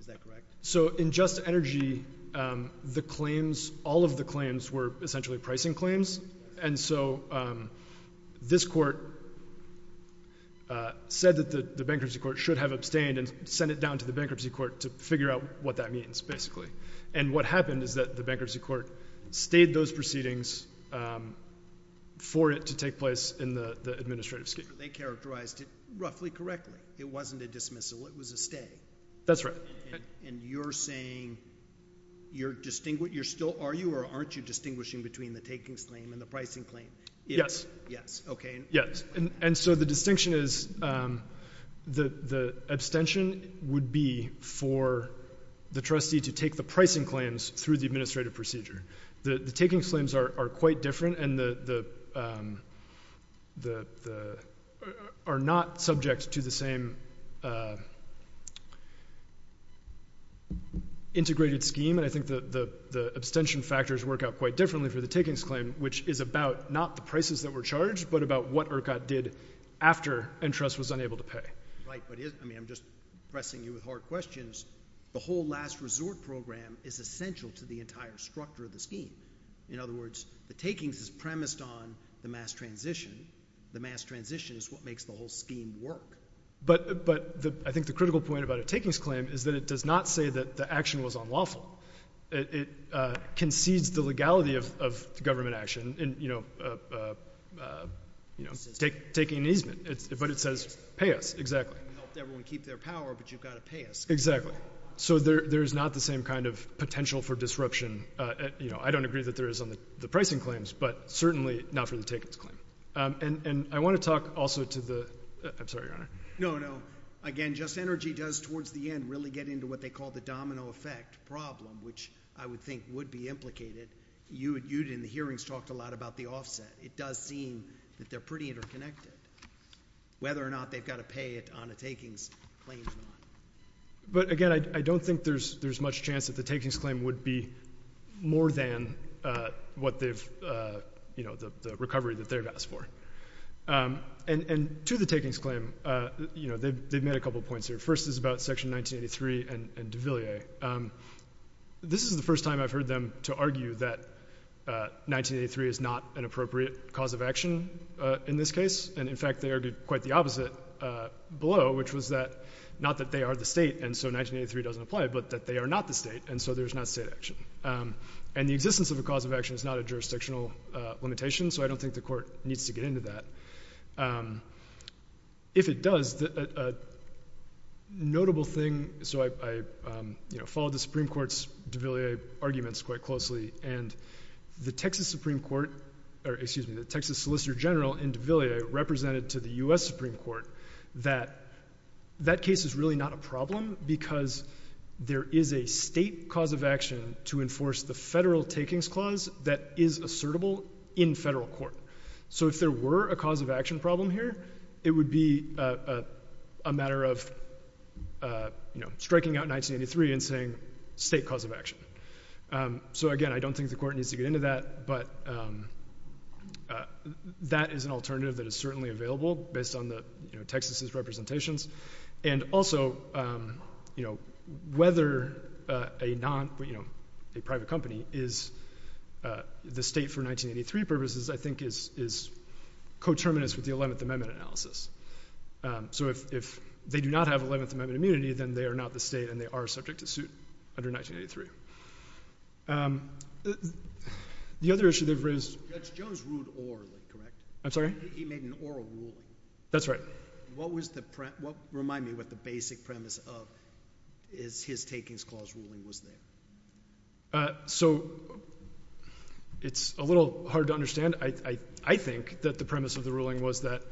Is that correct? So in just energy, the claims, all of the claims were essentially pricing claims, and so this court said that the bankruptcy court should have abstained and sent it down to the bankruptcy court to figure out what that means, basically. And what happened is that the bankruptcy court stayed those proceedings for it to take place in the administrative scheme. They characterized it roughly correctly. It wasn't a dismissal. It was a stay. That's right. And you're saying you're still, are you or aren't you distinguishing between the takings claim and the pricing claim? Yes. Yes, okay. Yes, and so the distinction is the abstention would be for the trustee to take the pricing claims through the administrative procedure. The takings claims are quite different and are not subject to the same integrated scheme, and I think the abstention factors work out quite differently for the takings claim, which is about not the prices that were charged but about what ERCOT did after and trust was unable to pay. Right, but I'm just pressing you with hard questions. The whole last resort program is essential to the entire structure of the scheme. In other words, the takings is premised on the mass transition. The mass transition is what makes the whole scheme work. But I think the critical point about a takings claim is that it does not say that the action was unlawful. It concedes the legality of government action, you know, taking an easement, but it says pay us, exactly. You helped everyone keep their power, but you've got to pay us. Exactly. So there is not the same kind of potential for disruption. You know, I don't agree that there is on the pricing claims, but certainly not for the takings claim. And I want to talk also to the – I'm sorry, Your Honor. No, no. Again, Just Energy does towards the end really get into what they call the domino effect problem, which I would think would be implicated. You and the hearings talked a lot about the offset. It does seem that they're pretty interconnected. Whether or not they've got to pay it on a takings claim or not. But, again, I don't think there's much chance that the takings claim would be more than what they've – you know, the recovery that they've asked for. And to the takings claim, you know, they've made a couple points here. First is about Section 1983 and de Villiers. This is the first time I've heard them to argue that 1983 is not an appropriate cause of action in this case. And, in fact, they argued quite the opposite below, which was that – not that they are the state and so 1983 doesn't apply, but that they are not the state, and so there's not state action. And the existence of a cause of action is not a jurisdictional limitation, so I don't think the court needs to get into that. If it does, a notable thing – so I followed the Supreme Court's de Villiers arguments quite closely, and the Texas Supreme Court – or, excuse me, the Texas Solicitor General in de Villiers represented to the U.S. Supreme Court that that case is really not a problem because there is a state cause of action to enforce the federal takings clause that is assertable in federal court. So if there were a cause of action problem here, it would be a matter of, you know, striking out 1983 and saying state cause of action. So, again, I don't think the court needs to get into that, but that is an alternative that is certainly available based on Texas' representations. And also, you know, whether a private company is the state for 1983 purposes I think is coterminous with the 11th Amendment analysis. So if they do not have 11th Amendment immunity, then they are not the state and they are subject to suit under 1983. The other issue they've raised – That's Joe's rude oral, correct? I'm sorry? He made an oral rule. That's right. But what was the – remind me what the basic premise of his takings clause ruling was there. So it's a little hard to understand. I think that the premise of the ruling was that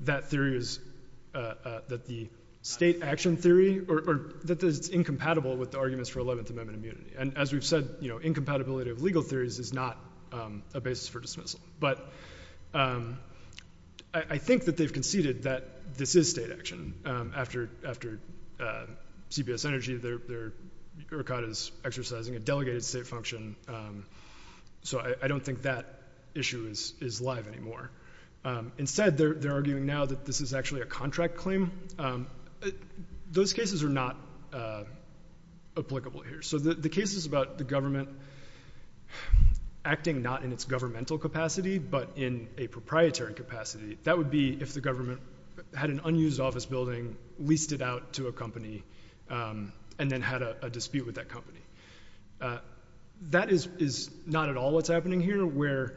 that theory is – that the state action theory – or that it's incompatible with the arguments for 11th Amendment immunity. And as we've said, you know, incompatibility of legal theories is not a basis for dismissal. But I think that they've conceded that this is state action. After CBS Energy, they're – ERCOT is exercising a delegated state function. So I don't think that issue is live anymore. Instead, they're arguing now that this is actually a contract claim. Those cases are not applicable here. So the cases about the government acting not in its governmental capacity, but in a proprietary capacity, that would be if the government had an unused office building, leased it out to a company, and then had a dispute with that company. That is not at all what's happening here, where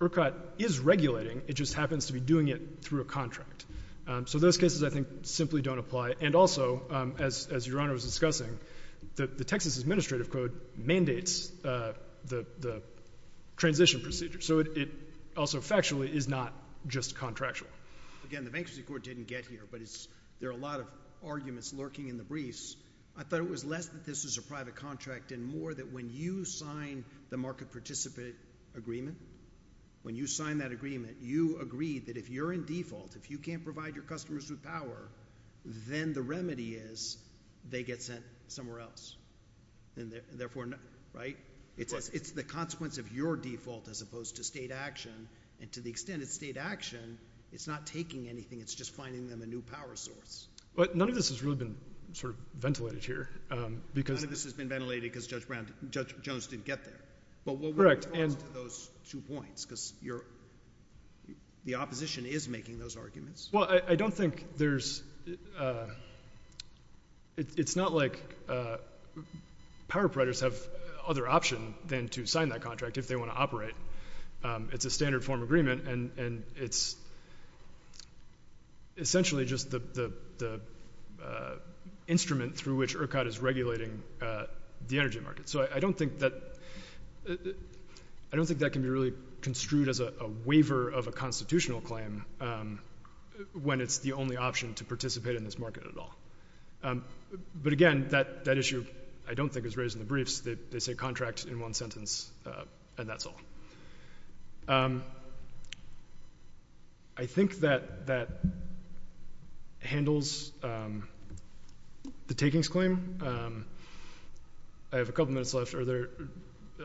ERCOT is regulating. It just happens to be doing it through a contract. So those cases, I think, simply don't apply. And also, as Your Honor was discussing, the Texas Administrative Code mandates the transition procedure. So it also factually is not just contractual. Again, the Bankruptcy Court didn't get here, but there are a lot of arguments lurking in the briefs. I thought it was less that this was a private contract and more that when you sign the market participant agreement, when you sign that agreement, you agree that if you're in default, if you can't provide your customers with power, then the remedy is they get sent somewhere else. And therefore, right? It's the consequence of your default as opposed to state action. And to the extent it's state action, it's not taking anything. It's just finding them a new power source. But none of this has really been sort of ventilated here. None of this has been ventilated because Judge Jones didn't get there. Correct. But what were the flaws to those two points? Because the opposition is making those arguments. Well, I don't think there's – it's not like power providers have other option than to sign that contract if they want to operate. It's a standard form agreement, and it's essentially just the instrument through which ERCOT is regulating the energy market. So I don't think that can be really construed as a waiver of a constitutional claim when it's the only option to participate in this market at all. But again, that issue I don't think is raised in the briefs. They say contract in one sentence, and that's all. I think that that handles the takings claim. I have a couple minutes left. Are there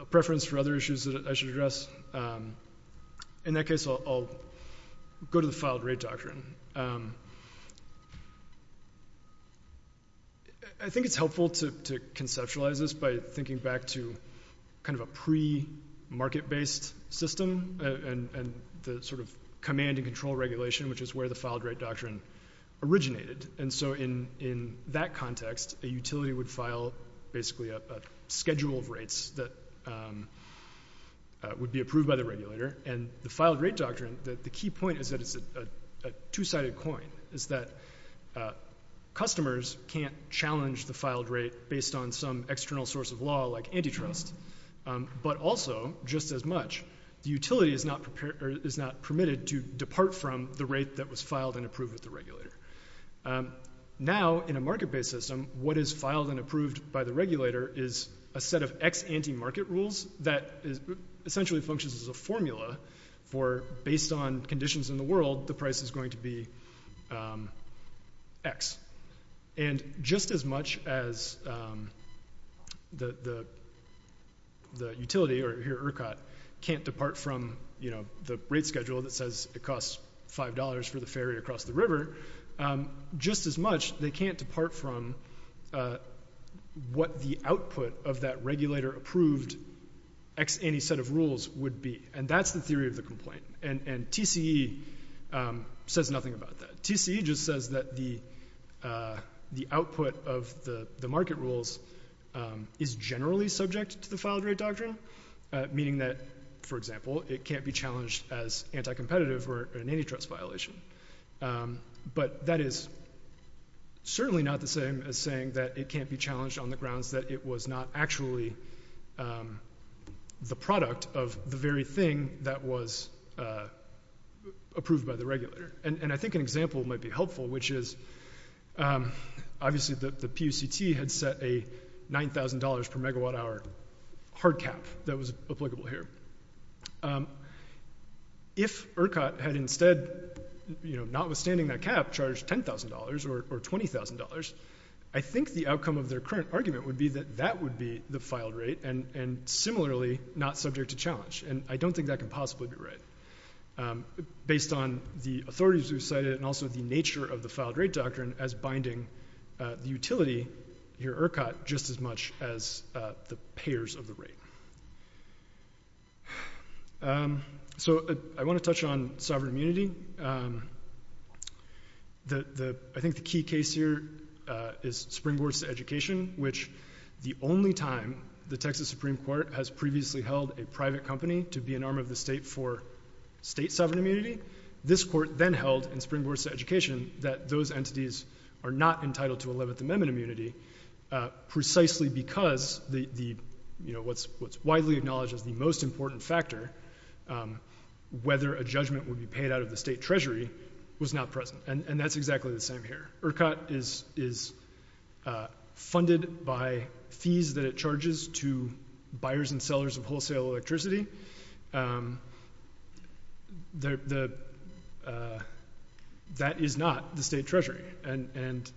preference for other issues that I should address? In that case, I'll go to the filed-rate doctrine. I think it's helpful to conceptualize this by thinking back to kind of a pre-market-based system and the sort of command-and-control regulation, which is where the filed-rate doctrine originated. And so in that context, a utility would file basically a schedule of rates that would be approved by the regulator. And the filed-rate doctrine, the key point is that it's a two-sided coin, is that customers can't challenge the filed rate based on some external source of law like antitrust. But also, just as much, the utility is not permitted to depart from the rate that was filed and approved with the regulator. Now, in a market-based system, what is filed and approved by the regulator is a set of X anti-market rules that essentially functions as a formula for based on conditions in the world, the price is going to be X. And just as much as the utility, or here ERCOT, can't depart from the rate schedule that says it costs $5 for the ferry across the river, just as much, they can't depart from what the output of that regulator-approved X anti-set of rules would be. And that's the theory of the complaint. And TCE says nothing about that. TCE just says that the output of the market rules is generally subject to the filed-rate doctrine, meaning that, for example, it can't be challenged as anti-competitive or an antitrust violation. But that is certainly not the same as saying that it can't be challenged on the grounds that it was not actually the product of the very thing that was approved by the regulator. And I think an example might be helpful, which is, obviously, the PUCT had set a $9,000-per-megawatt-hour hard cap that was applicable here. If ERCOT had instead, notwithstanding that cap, charged $10,000 or $20,000, I think the outcome of their current argument would be that that would be the filed rate and, similarly, not subject to challenge. And I don't think that can possibly be right, based on the authorities who cited it and also the nature of the filed-rate doctrine as binding the utility here at ERCOT just as much as the payers of the rate. So I want to touch on sovereign immunity. I think the key case here is springboards to education, which the only time the Texas Supreme Court has previously held a private company to be an arm of the state for state sovereign immunity, this court then held in springboards to education that those entities are not entitled to 11th Amendment immunity, precisely because what's widely acknowledged as the most important factor, whether a judgment would be paid out of the state treasury, was not present, and that's exactly the same here. ERCOT is funded by fees that it charges to buyers and sellers of wholesale electricity. That is not the state treasury, and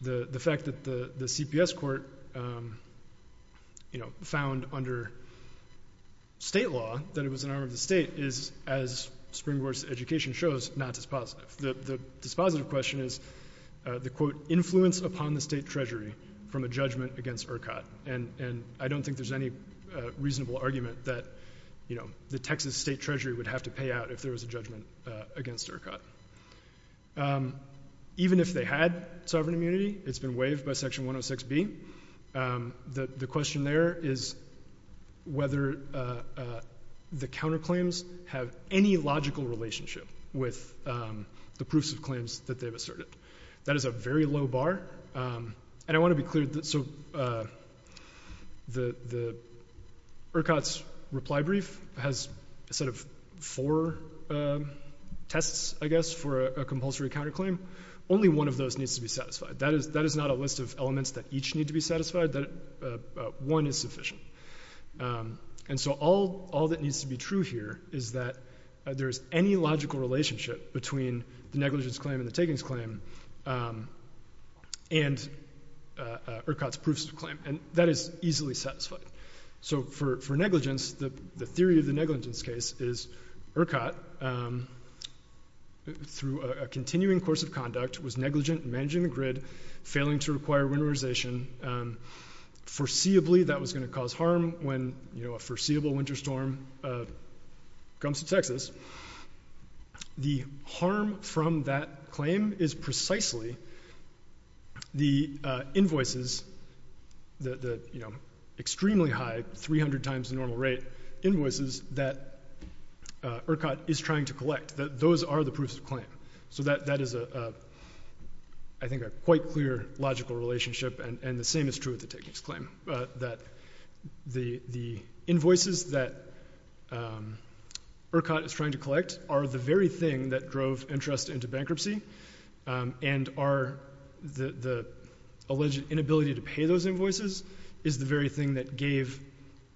the fact that the CPS court, you know, found under state law that it was an arm of the state is, as springboards to education shows, not dispositive. The dispositive question is the, quote, influence upon the state treasury from a judgment against ERCOT, and I don't think there's any reasonable argument that the Texas state treasury would have to pay out if there was a judgment against ERCOT. Even if they had sovereign immunity, it's been waived by Section 106B. The question there is whether the counterclaims have any logical relationship with the proofs of claims that they've asserted. That is a very low bar, and I want to be clear. So the ERCOT's reply brief has a set of four tests, I guess, for a compulsory counterclaim. Only one of those needs to be satisfied. That is not a list of elements that each need to be satisfied. One is sufficient. And so all that needs to be true here is that there is any logical relationship between the negligence claim and the takings claim and ERCOT's proofs of claim, and that is easily satisfied. So for negligence, the theory of the negligence case is ERCOT, through a continuing course of conduct, was negligent in managing the grid, failing to require winterization. Foreseeably, that was going to cause harm when a foreseeable winter storm comes to Texas. The harm from that claim is precisely the invoices, the extremely high, 300 times the normal rate invoices that ERCOT is trying to collect. Those are the proofs of claim. So that is, I think, a quite clear logical relationship, and the same is true with the takings claim, that the invoices that ERCOT is trying to collect are the very thing that drove interest into bankruptcy and the alleged inability to pay those invoices is the very thing that gave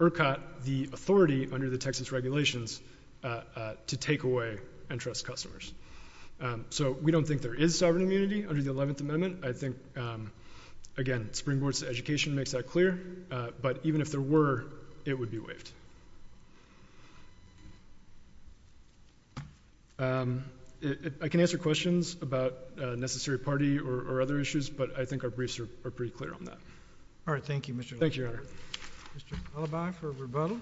ERCOT the authority under the Texas regulations to take away interest customers. So we don't think there is sovereign immunity under the 11th Amendment. I think, again, Springboard's education makes that clear, but even if there were, it would be waived. I can answer questions about a necessary party or other issues, but I think our briefs are pretty clear on that. All right, thank you, Mr. LeBlanc. Thank you, Your Honor. Mr. Alibi for rebuttal.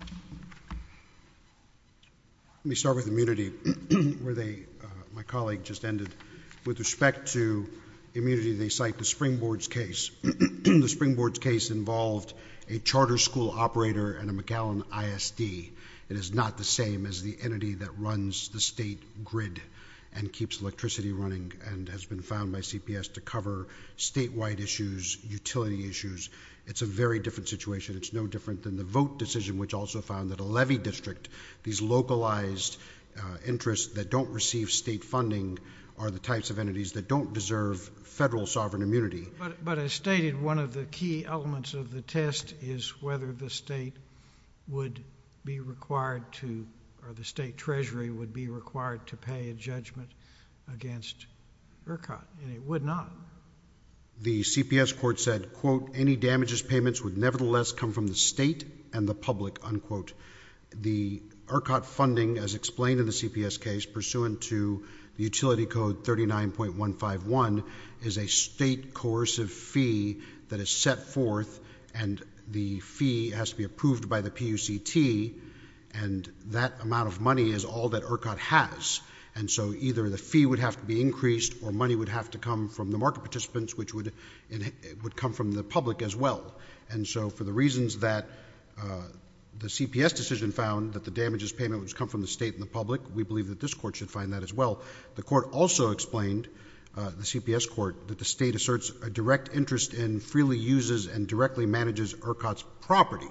Let me start with immunity, where my colleague just ended. With respect to immunity, they cite the Springboard's case. The Springboard's case involved a charter school operator and a McAllen ISD. It is not the same as the entity that runs the state grid and keeps electricity running and has been found by CPS to cover statewide issues, utility issues. It's a very different situation. It's no different than the vote decision, which also found that a levy district, these localized interests that don't receive state funding are the types of entities that don't deserve federal sovereign immunity. But as stated, one of the key elements of the test is whether the state would be required to, or the state treasury would be required to pay a judgment against ERCOT, and it would not. The CPS court said, quote, any damages payments would nevertheless come from the state and the public, unquote. The ERCOT funding, as explained in the CPS case, pursuant to Utility Code 39.151, is a state coercive fee that is set forth, and the fee has to be approved by the PUCT, and that amount of money is all that ERCOT has. And so either the fee would have to be increased or money would have to come from the market participants, which would come from the public as well. And so for the reasons that the CPS decision found that the damages payment would come from the state and the public, we believe that this court should find that as well. The court also explained, the CPS court, that the state asserts a direct interest in, freely uses, and directly manages ERCOT's property.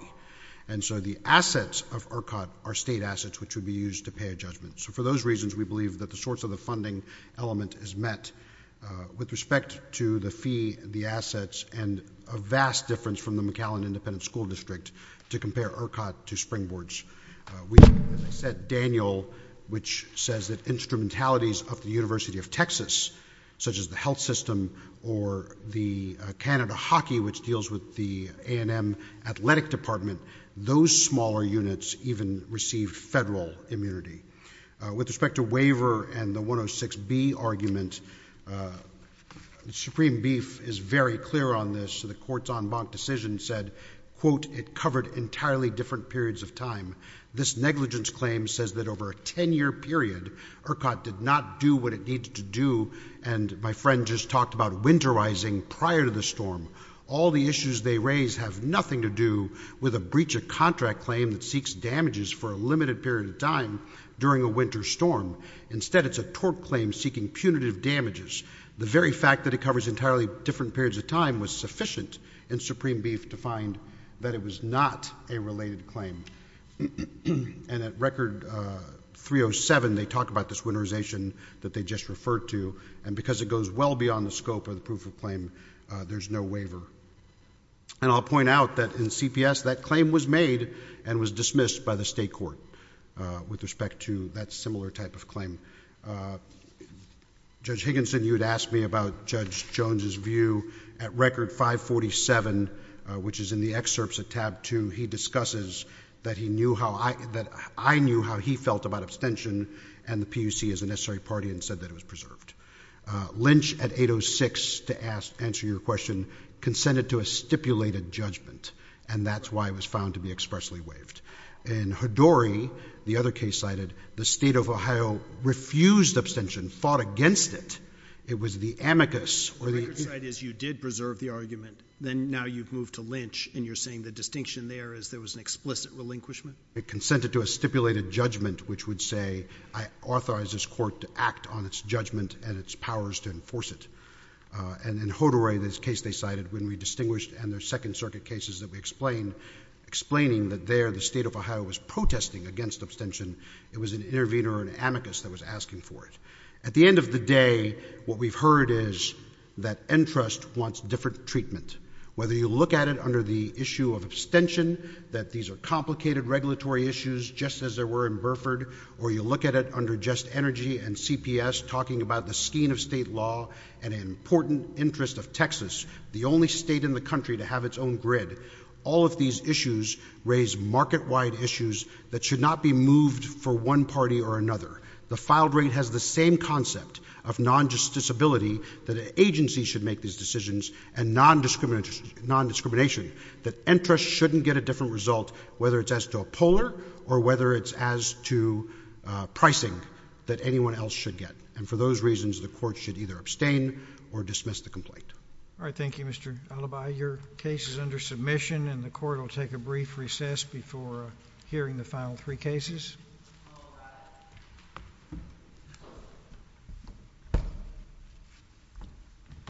And so the assets of ERCOT are state assets, which would be used to pay a judgment. So for those reasons, we believe that the sorts of the funding element is met with respect to the fee, the assets, and a vast difference from the McAllen Independent School District to compare ERCOT to springboards. We, as I said, Daniel, which says that instrumentalities of the University of Texas, such as the health system or the Canada hockey, which deals with the A&M athletic department, those smaller units even receive federal immunity. With respect to waiver and the 106B argument, Supreme Beef is very clear on this. The court's en banc decision said, quote, it covered entirely different periods of time. This negligence claim says that over a 10-year period, ERCOT did not do what it needed to do. And my friend just talked about winterizing prior to the storm. All the issues they raise have nothing to do with a breach of contract claim that seeks damages for a limited period of time during a winter storm. Instead, it's a tort claim seeking punitive damages. The very fact that it covers entirely different periods of time was sufficient in Supreme Beef to find that it was not a related claim. And at Record 307, they talk about this winterization that they just referred to, and because it goes well beyond the scope of the proof of claim, there's no waiver. And I'll point out that in CPS, that claim was made and was dismissed by the state court with respect to that similar type of claim. Judge Higginson, you had asked me about Judge Jones's view. At Record 547, which is in the excerpts at tab 2, he discusses that I knew how he felt about abstention, and the PUC is a necessary party and said that it was preserved. Lynch, at 806, to answer your question, consented to a stipulated judgment, and that's why it was found to be expressly waived. In Hadori, the other case cited, the state of Ohio refused abstention, fought against it. It was the amicus. The right side is you did preserve the argument, then now you've moved to Lynch, and you're saying the distinction there is there was an explicit relinquishment? It consented to a stipulated judgment, which would say I authorize this court to act on its judgment and its powers to enforce it. And in Hadori, this case they cited, when we distinguished, and there's Second Circuit cases that we explained, explaining that there the state of Ohio was protesting against abstention. It was an intervener or an amicus that was asking for it. At the end of the day, what we've heard is that NTRUST wants different treatment. Whether you look at it under the issue of abstention, that these are complicated regulatory issues, just as there were in Burford, or you look at it under just energy and CPS, talking about the scheme of state law and an important interest of Texas, the only state in the country to have its own grid. All of these issues raise market-wide issues that should not be moved for one party or another. The filed rate has the same concept of non-justiciability, that an agency should make these decisions, and non-discrimination, that NTRUST shouldn't get a different result, that anyone else should get. And for those reasons, the court should either abstain or dismiss the complaint. All right, thank you, Mr. Alibi. Your case is under submission, and the court will take a brief recess before hearing the final three cases.